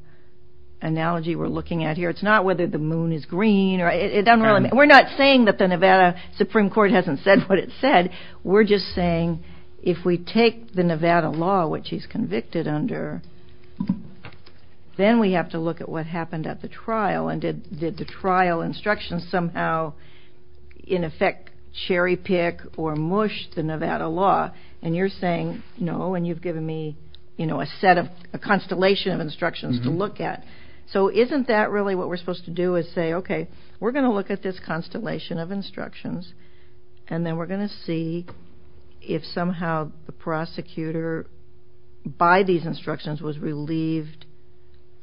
analogy we're looking at here? It's not whether the moon is green. We're not saying that the Nevada Supreme Court hasn't said what it said. We're just saying if we take the Nevada law, which he's convicted under, then we have to look at what happened at the trial. And did the trial instructions somehow, in effect, cherry pick or mush the Nevada law? And you're saying, no, and you've given me a constellation of instructions to look at. So isn't that really what we're supposed to do is say, okay, we're going to look at this constellation of instructions, and then we're going to see if somehow the prosecutor by these instructions was relieved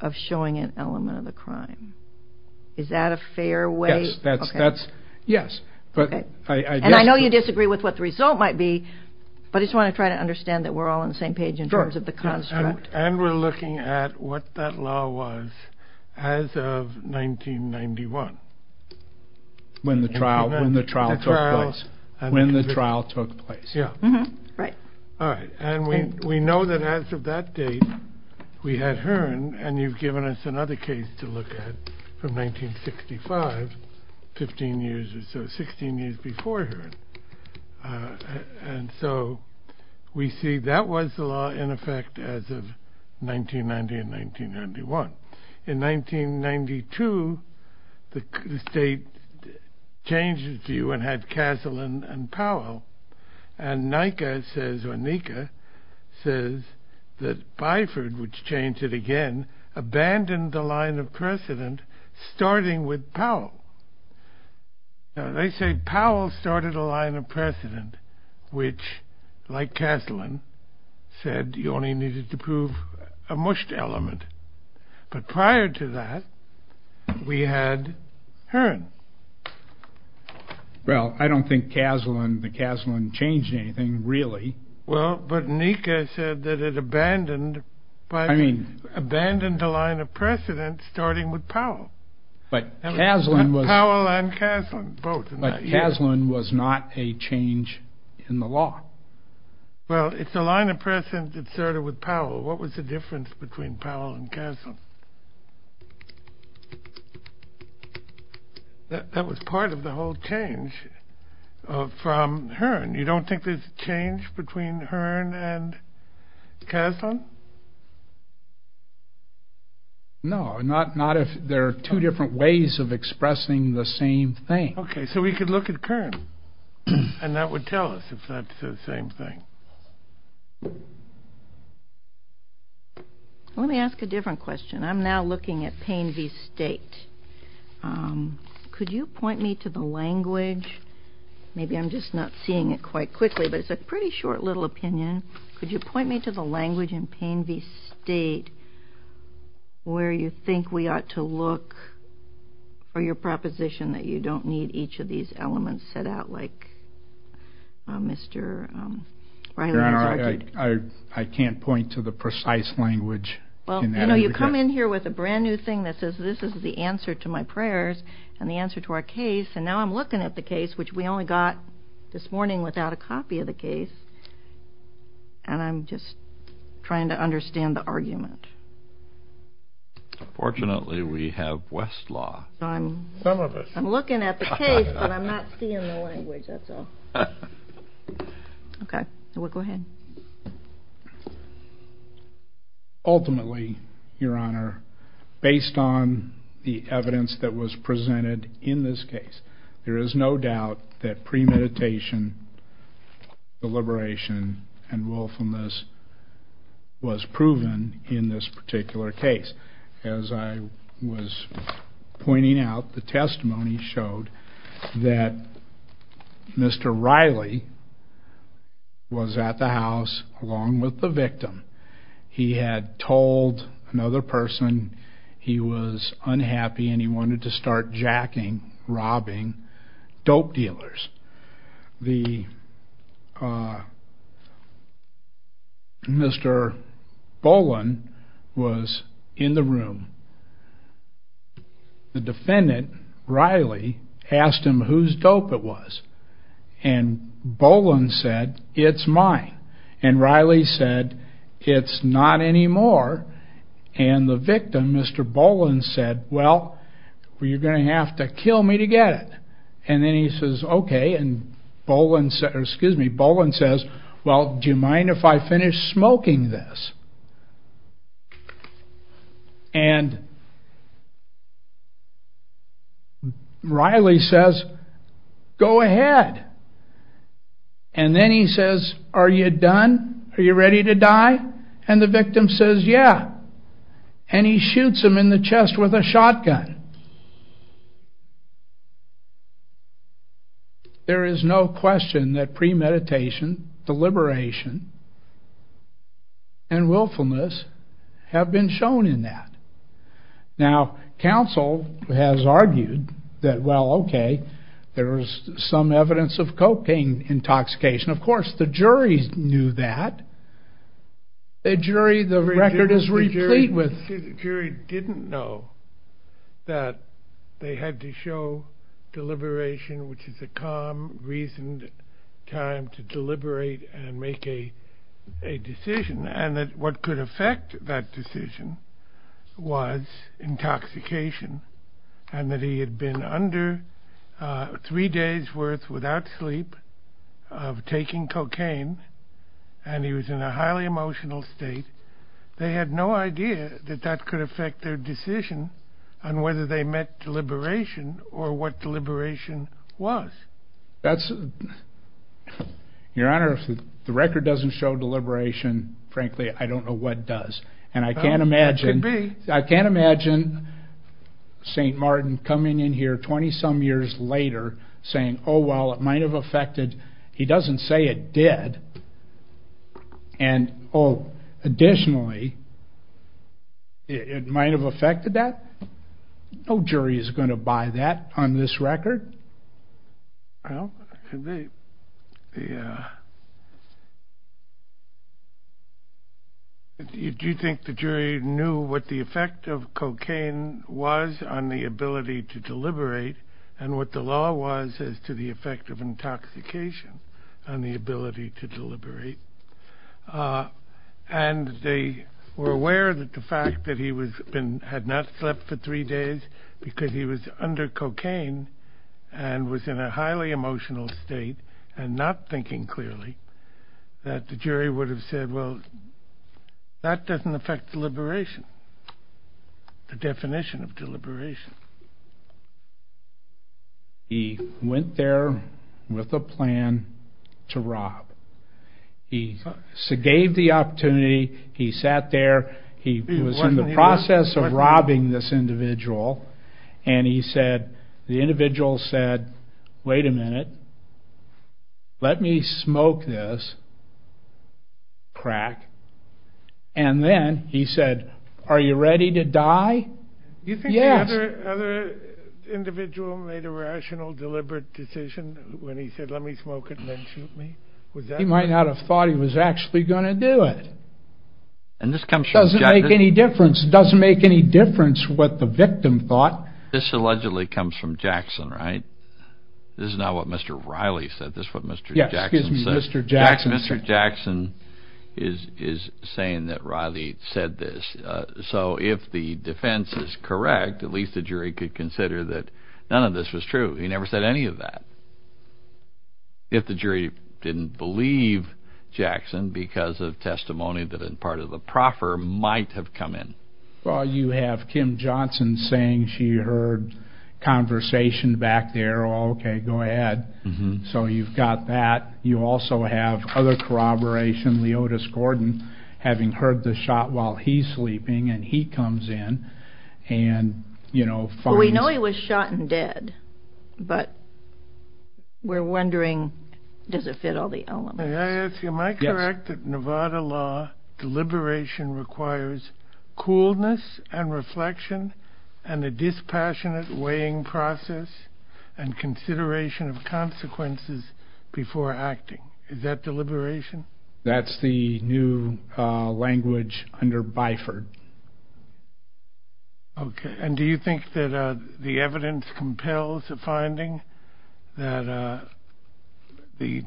of showing an element of the crime. Is that a fair way? Yes. And I know you disagree with what the result might be, but I just want to try to understand that we're all on the same page in terms of the construct. And we're looking at what that law was as of 1991. When the trial took place. Yeah. Right. All right. And we know that as of that date, we had Hearn, and you've given us another case to look at from 1965, 15 years or so, 16 years before Hearn. And so we see that was the law, in effect, as of 1990 and 1991. In 1992, the state changed its view and had Castle and Powell. And NICA says, or NICA, says that Byford, which changed it again, abandoned the line of precedent, starting with Powell. They say Powell started a line of precedent, which, like Castle and said, you only needed to prove a mushed element. But prior to that, we had Hearn. Well, I don't think Castle and the Castle and changed anything, really. Well, but NICA said that it abandoned. I mean. Abandoned the line of precedent, starting with Powell. Powell and Castle, both. But Castle was not a change in the law. Well, if the line of precedent started with Powell, what was the difference between Powell and Castle? That was part of the whole change from Hearn. You don't think there's a change between Hearn and Castle? No. Not if there are two different ways of expressing the same thing. Okay. So we could look at Hearn, and that would tell us if that's the same thing. Let me ask a different question. I'm now looking at Payne v. State. Could you point me to the language? Maybe I'm just not seeing it quite quickly, but it's a pretty short little opinion. Could you point me to the language in Payne v. State where you think we ought to look for your proposition that you don't need each of these elements set out, like Mr. Reiner? I can't point to the precise language. Well, you come in here with a brand-new thing that says this is the answer to my prayers and the answer to our case, and now I'm looking at the case, which we only got this morning without a copy of the case, and I'm just trying to understand the argument. Unfortunately, we have Westlaw. I'm looking at the case, but I'm not seeing the language, that's all. Okay. Go ahead. Ultimately, Your Honor, based on the evidence that was presented in this case, there is no doubt that premeditation, deliberation, and willfulness was proven in this particular case. As I was pointing out, the testimony showed that Mr. Riley was at the house along with the victim. He had told another person he was unhappy and he wanted to start jacking, robbing dope dealers. Mr. Boland was in the room. The defendant, Riley, asked him whose dope it was, and Boland said, it's mine. And Riley said, it's not anymore. And the victim, Mr. Boland, said, well, you're going to have to kill me to get it. And then he says, okay, and Boland says, well, do you mind if I finish smoking this? And Riley says, go ahead. And then he says, are you done? Are you ready to die? And the victim says, yeah. And he shoots him in the chest with a shotgun. There is no question that premeditation, deliberation, and willfulness have been shown in that. Now, counsel has argued that, well, okay, there is some evidence of cocaine intoxication. Of course, the jury knew that. The jury didn't know that they had to show deliberation, which is a calm, reasoned time to deliberate and make a decision, and that what could affect that decision was intoxication, and that he had been under three days' worth without sleep of taking cocaine, and he was in a highly emotional state. They had no idea that that could affect their decision on whether they met deliberation or what deliberation was. Your Honor, if the record doesn't show deliberation, frankly, I don't know what does. And I can't imagine St. Martin coming in here 20-some years later saying, oh, well, it might have affected. He doesn't say it did. And, oh, additionally, it might have affected that. No jury is going to buy that on this record. Well, do you think the jury knew what the effect of cocaine was on the ability to deliberate and what the law was as to the effect of intoxication on the ability to deliberate? And they were aware that the fact that he had not slept for three days because he was under cocaine and was in a highly emotional state and not thinking clearly, that the jury would have said, well, that doesn't affect deliberation, the definition of deliberation. He went there with a plan to rob. He gave the opportunity. He sat there. He was in the process of robbing this individual. And he said, the individual said, wait a minute, let me smoke this crack. And then he said, are you ready to die? Do you think the other individual made a rational, deliberate decision when he said, let me smoke it and then shoot me? He might not have thought he was actually going to do it. It doesn't make any difference. It doesn't make any difference what the victim thought. This allegedly comes from Jackson, right? This is not what Mr. Riley said. This is what Mr. Jackson said. Mr. Jackson is saying that Riley said this. So if the defense is correct, at least the jury could consider that none of this was true. He never said any of that. If the jury didn't believe Jackson because of testimony that is part of the proffer, might have come in. Well, you have Kim Johnson saying she heard conversation back there. Okay, go ahead. So you've got that. You also have other corroboration, Leotis Gordon having heard the shot while he's sleeping. And he comes in and, you know. We know he was shot and dead. But we're wondering, does it fit all the elements? May I ask you, am I correct that Nevada law deliberation requires coolness and reflection and a dispassionate weighing process and consideration of consequences before acting? Is that deliberation? That's the new language under BIFR. Okay. And do you think that the evidence compels a finding that the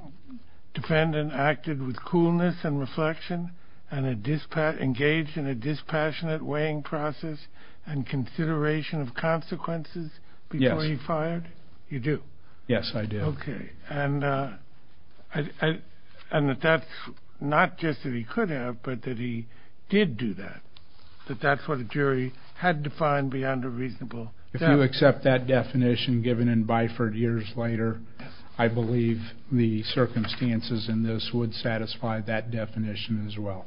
defendant acted with coolness and reflection and engaged in a dispassionate weighing process and consideration of consequences before he fired? You do? Yes, I do. Okay. And that that's not just that he could have, but that he did do that, that that's what a jury had to find beyond a reasonable doubt. If you accept that definition given in BIFR years later, I believe the circumstances in this would satisfy that definition as well.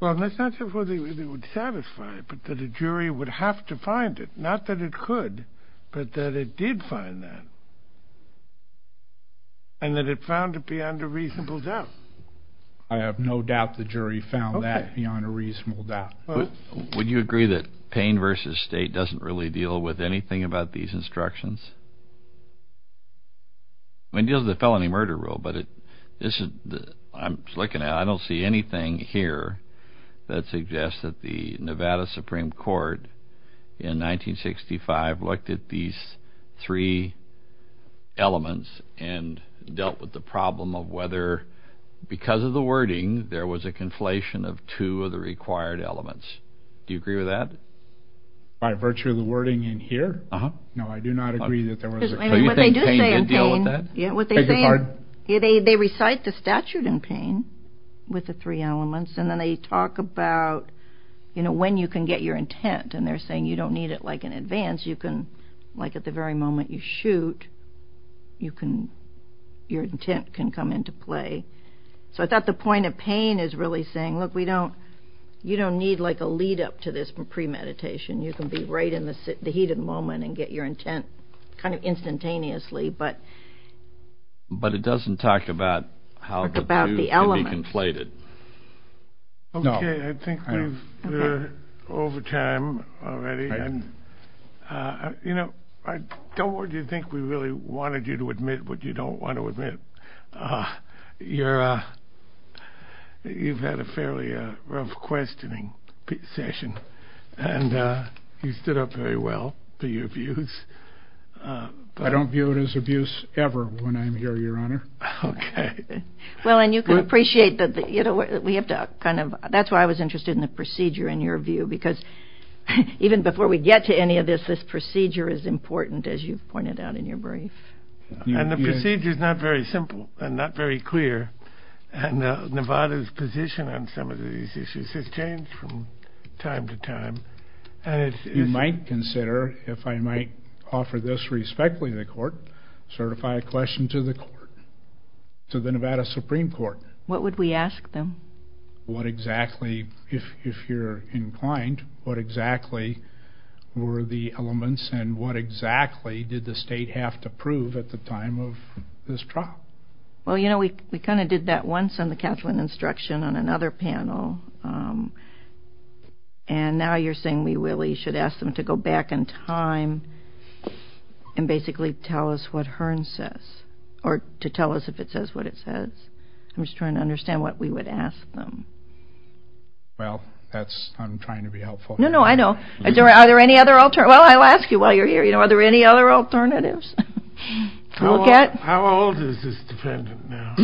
Well, that's not to say that it would satisfy it, but that a jury would have to find it. Not that it could, but that it did find that. And that it found it beyond a reasonable doubt. I have no doubt the jury found that beyond a reasonable doubt. Would you agree that Payne v. State doesn't really deal with anything about these instructions? I mean, it deals with the felony murder rule, but I don't see anything here that suggests that the Nevada Supreme Court in 1965 looked at these three elements and dealt with the problem of whether, because of the wording, there was a conflation of two of the required elements. Do you agree with that? By virtue of the wording in here? Uh-huh. No, I do not agree that there was a conflation. Do you think Payne can deal with that? What they do say in Payne, what they say, they recite the statute in Payne with the three elements, and then they talk about, you know, when you can get your intent. And they're saying you don't need it, like, in advance. You can, like, at the very moment you shoot, you can, your intent can come into play. So I thought the point of Payne is really saying, look, we don't, you don't need, like, a lead-up to this premeditation. You can be right in the heat of the moment and get your intent kind of instantaneously. But it doesn't talk about how the view can be conflated. Okay. I think we're over time already. And, you know, I don't think we really wanted you to admit what you don't want to admit. You've had a fairly rough questioning session, and you stood up very well to your views. I don't view it as abuse ever when I'm here, Your Honor. Okay. Well, and you can appreciate that, you know, we have to kind of, that's why I was interested in the procedure in your view. Because even before we get to any of this, this procedure is important, as you pointed out in your brief. And the procedure is not very simple and not very clear. And Nevada's position on some of these issues has changed from time to time. You might consider, if I might offer this respectfully to the court, certify a question to the court, to the Nevada Supreme Court. What would we ask them? What exactly, if you're inclined, what exactly were the elements and what exactly did the state have to prove at the time of this trial? Well, you know, we kind of did that once on the Council on Instruction on another panel. And now you're saying we really should ask them to go back in time and basically tell us what Hearn says, or to tell us if it says what it says. I'm just trying to understand what we would ask them. Well, that's, I'm trying to be helpful. No, no, I know. Are there any other alternatives? Well, I'll ask you while you're here, you know, are there any other alternatives to look at? How old is this defendant now?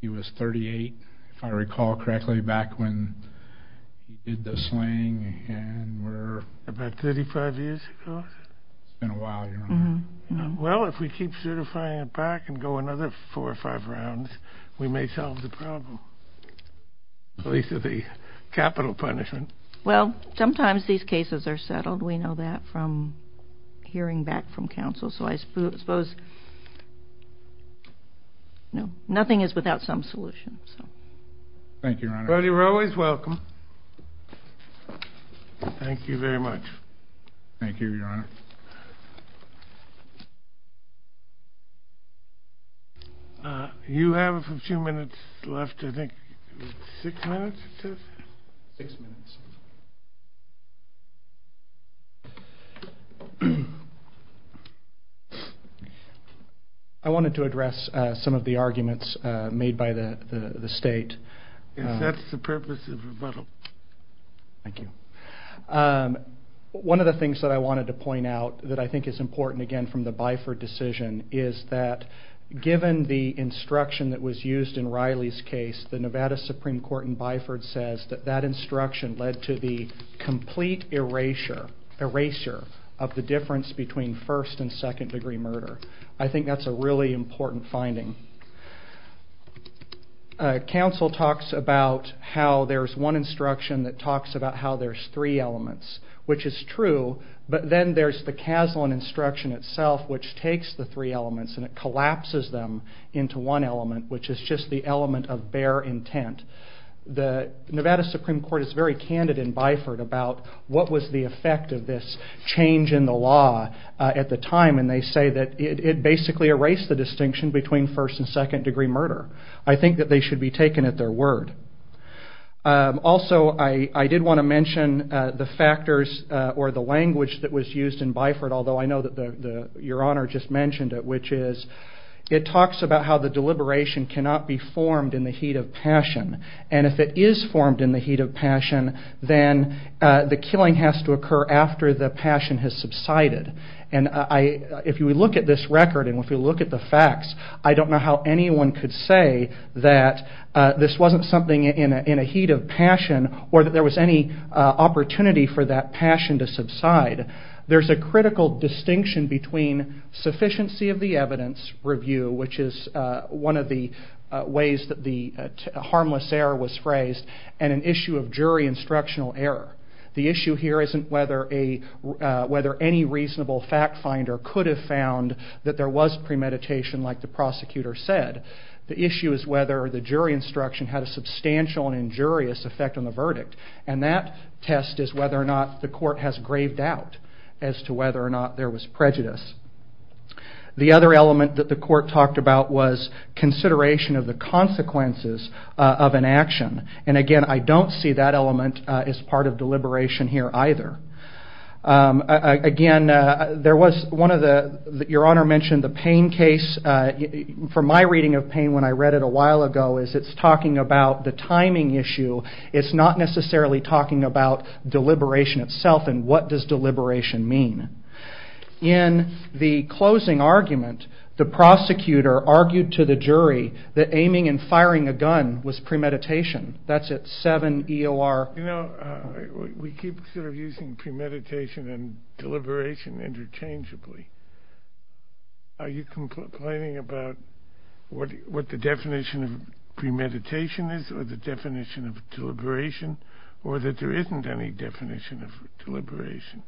He was 38, if I recall correctly, back when he did the slaying. And we're about 35 years ago. It's been a while, you know. Well, if we keep certifying it back and go another four or five rounds, we may solve the problem, at least with the capital punishment. Well, sometimes these cases are settled. We know that from hearing back from Council. So I suppose, you know, nothing is without some solution. Thank you, Your Honor. You're always welcome. Thank you very much. Thank you, Your Honor. You have a few minutes left, I think. Six minutes, it says? Six minutes. I wanted to address some of the arguments made by the State. If that's the purpose of rebuttal. Thank you. One of the things that I wanted to point out that I think is important, again, from the Byford decision is that given the instruction that was used in Riley's case, the Nevada Supreme Court in Byford says that that instruction led to the complete erasure, erasure of the difference between first and second degree murder. I think that's a really important finding. Council talks about how there's one instruction that talks about how there's three elements, which is true, but then there's the Caslon instruction itself, which takes the three elements and it collapses them into one element, which is just the element of bare intent. The Nevada Supreme Court is very candid in Byford about what was the effect of this change in the law at the time, and they say that it basically erased the distinction between first and second degree murder. I think that they should be taken at their word. Also, I did want to mention the factors or the language that was used in Byford, although I know that Your Honor just mentioned it, which is it talks about how the deliberation cannot be formed in the heat of passion, and if it is formed in the heat of passion, then the killing has to occur after the passion has subsided. If you look at this record and if you look at the facts, I don't know how anyone could say that this wasn't something in a heat of passion or that there was any opportunity for that passion to subside. There's a critical distinction between sufficiency of the evidence review, which is one of the ways that the harmless error was phrased, and an issue of jury instructional error. The issue here isn't whether any reasonable fact finder could have found that there was premeditation, like the prosecutor said. The issue is whether the jury instruction had a substantial and injurious effect on the verdict, and that test is whether or not the court has graved out as to whether or not there was prejudice. The other element that the court talked about was consideration of the consequences of an action, and again, I don't see that element as part of deliberation here either. Again, your Honor mentioned the Payne case. From my reading of Payne when I read it a while ago, it's talking about the timing issue. It's not necessarily talking about deliberation itself and what does deliberation mean. In the closing argument, the prosecutor argued to the jury that aiming and firing a gun was premeditation. That's at 7 EOR. We keep sort of using premeditation and deliberation interchangeably. Are you complaining about what the definition of premeditation is or the definition of deliberation, or that there isn't any definition of deliberation?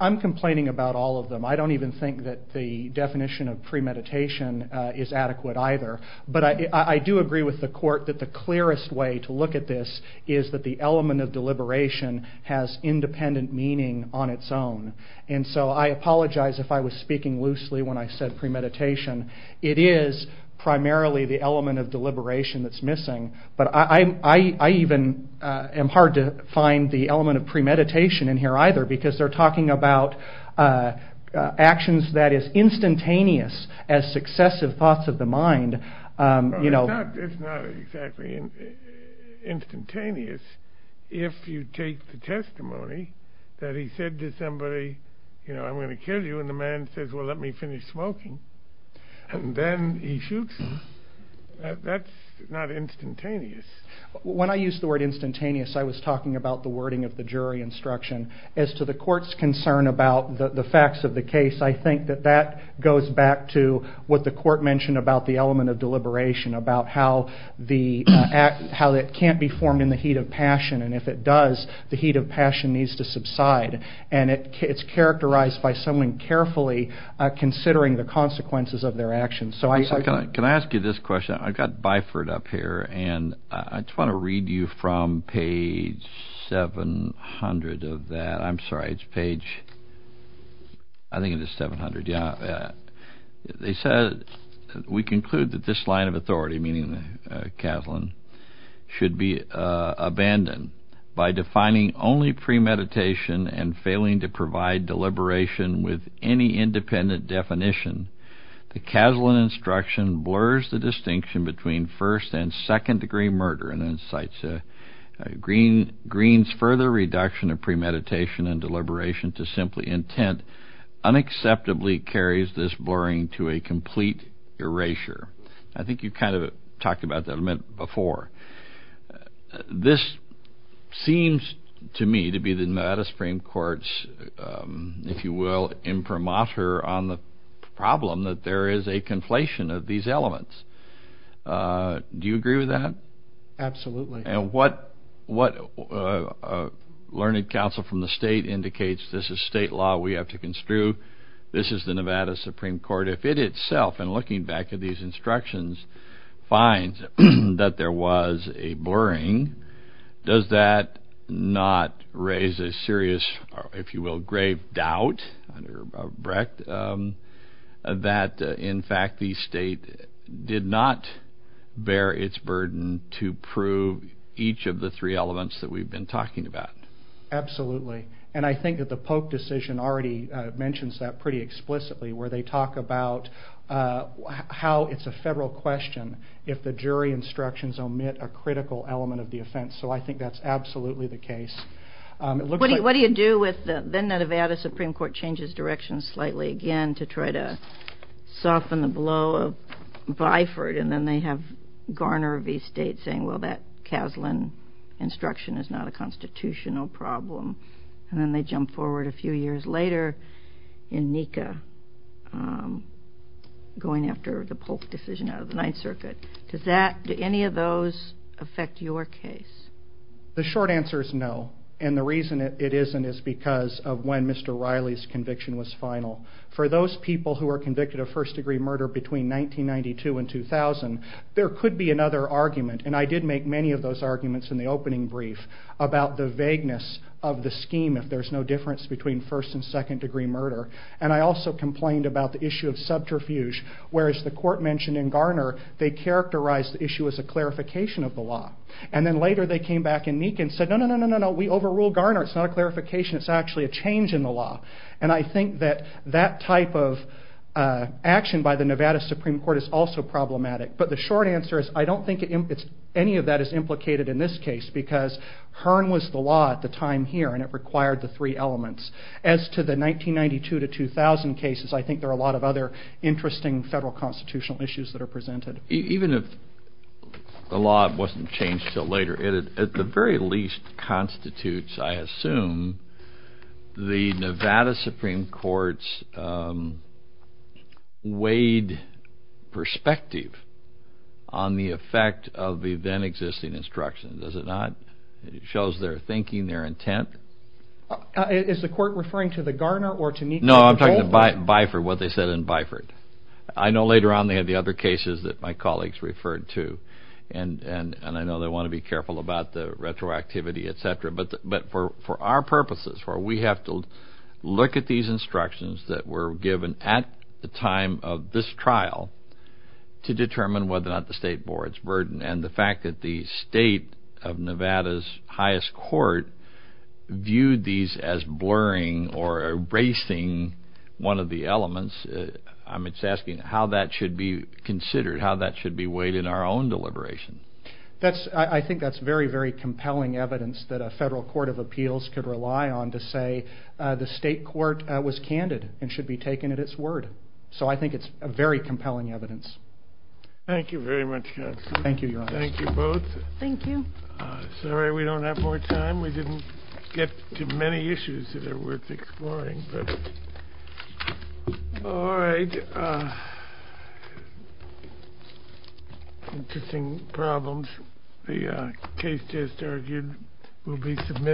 I'm complaining about all of them. I don't even think that the definition of premeditation is adequate either. But I do agree with the court that the clearest way to look at this is that the element of deliberation has independent meaning on its own. And so I apologize if I was speaking loosely when I said premeditation. But I even am hard to find the element of premeditation in here either, because they're talking about actions that is instantaneous as successive thoughts of the mind. It's not exactly instantaneous. If you take the testimony that he said to somebody, I'm going to kill you, and the man says, well, let me finish smoking, and then he shoots you, that's not instantaneous. When I used the word instantaneous, I was talking about the wording of the jury instruction. As to the court's concern about the facts of the case, I think that that goes back to what the court mentioned about the element of deliberation, about how it can't be formed in the heat of passion, and if it does, the heat of passion needs to subside. And it's characterized by someone carefully considering the consequences of their actions. Can I ask you this question? I've got Byford up here, and I just want to read you from page 700 of that. I'm sorry, it's page, I think it is 700, yeah. It says, we conclude that this line of authority, meaning the Kazlan, should be abandoned. By defining only premeditation and failing to provide deliberation with any independent definition, the Kazlan instruction blurs the distinction between first and second degree murder, and then cites Green's further reduction of premeditation and deliberation to simply intent, unacceptably carries this blurring to a complete erasure. I think you kind of talked about that a minute before. This seems to me to be the Nevada Supreme Court's, if you will, imprimatur on the problem that there is a conflation of these elements. Do you agree with that? Absolutely. And what learned counsel from the state indicates, this is state law we have to construe, this is the Nevada Supreme Court, if it itself, in looking back at these instructions, finds that there was a blurring, does that not raise a serious, if you will, grave doubt, that in fact the state did not bear its burden to prove each of the three elements that we've been talking about. Absolutely. And I think that the Polk decision already mentions that pretty explicitly, where they talk about how it's a federal question if the jury instructions omit a critical element of the offense. So I think that's absolutely the case. What do you do when the Nevada Supreme Court changes direction slightly again to try to soften the blow of Byford and then they have Garner v. State saying, well, that Kaslan instruction is not a constitutional problem. And then they jump forward a few years later in NECA, going after the Polk decision out of the Ninth Circuit. Do any of those affect your case? The short answer is no. And the reason it isn't is because of when Mr. Riley's conviction was final. For those people who were convicted of first degree murder between 1992 and 2000, there could be another argument, and I did make many of those arguments in the opening brief, about the vagueness of the scheme if there's no difference between first and second degree murder. And I also complained about the issue of subterfuge, whereas the court mentioned in Garner they characterized the issue as a clarification of the law. And then later they came back in NECA and said, no, no, no, we overruled Garner. It's not a clarification, it's actually a change in the law. And I think that that type of action by the Nevada Supreme Court is also problematic. But the short answer is I don't think any of that is implicated in this case because Hearn was the law at the time here and it required the three elements. As to the 1992 to 2000 cases, I think there are a lot of other interesting federal constitutional issues that are presented. Even if the law wasn't changed until later, it at the very least constitutes, I assume, the Nevada Supreme Court's weighed perspective on the effect of the then existing instructions, does it not? It shows their thinking, their intent. Is the court referring to the Garner or to NECA? No, I'm talking to Biford, what they said in Biford. I know later on they had the other cases that my colleagues referred to and I know they want to be careful about the retroactivity, et cetera. But for our purposes, where we have to look at these instructions that were given at the time of this trial to determine whether or not the state board's burden and the fact that the state of Nevada's highest court viewed these as blurring or erasing one of the elements. It's asking how that should be considered, how that should be weighed in our own deliberation. I think that's very, very compelling evidence that a federal court of appeals could rely on to say the state court was candid and should be taken at its word. So I think it's very compelling evidence. Thank you very much, John. Thank you, Your Honor. Thank you both. Thank you. Sorry we don't have more time. We didn't get to many issues that are worth exploring. All right. Interesting problems. The case just argued will be submitted.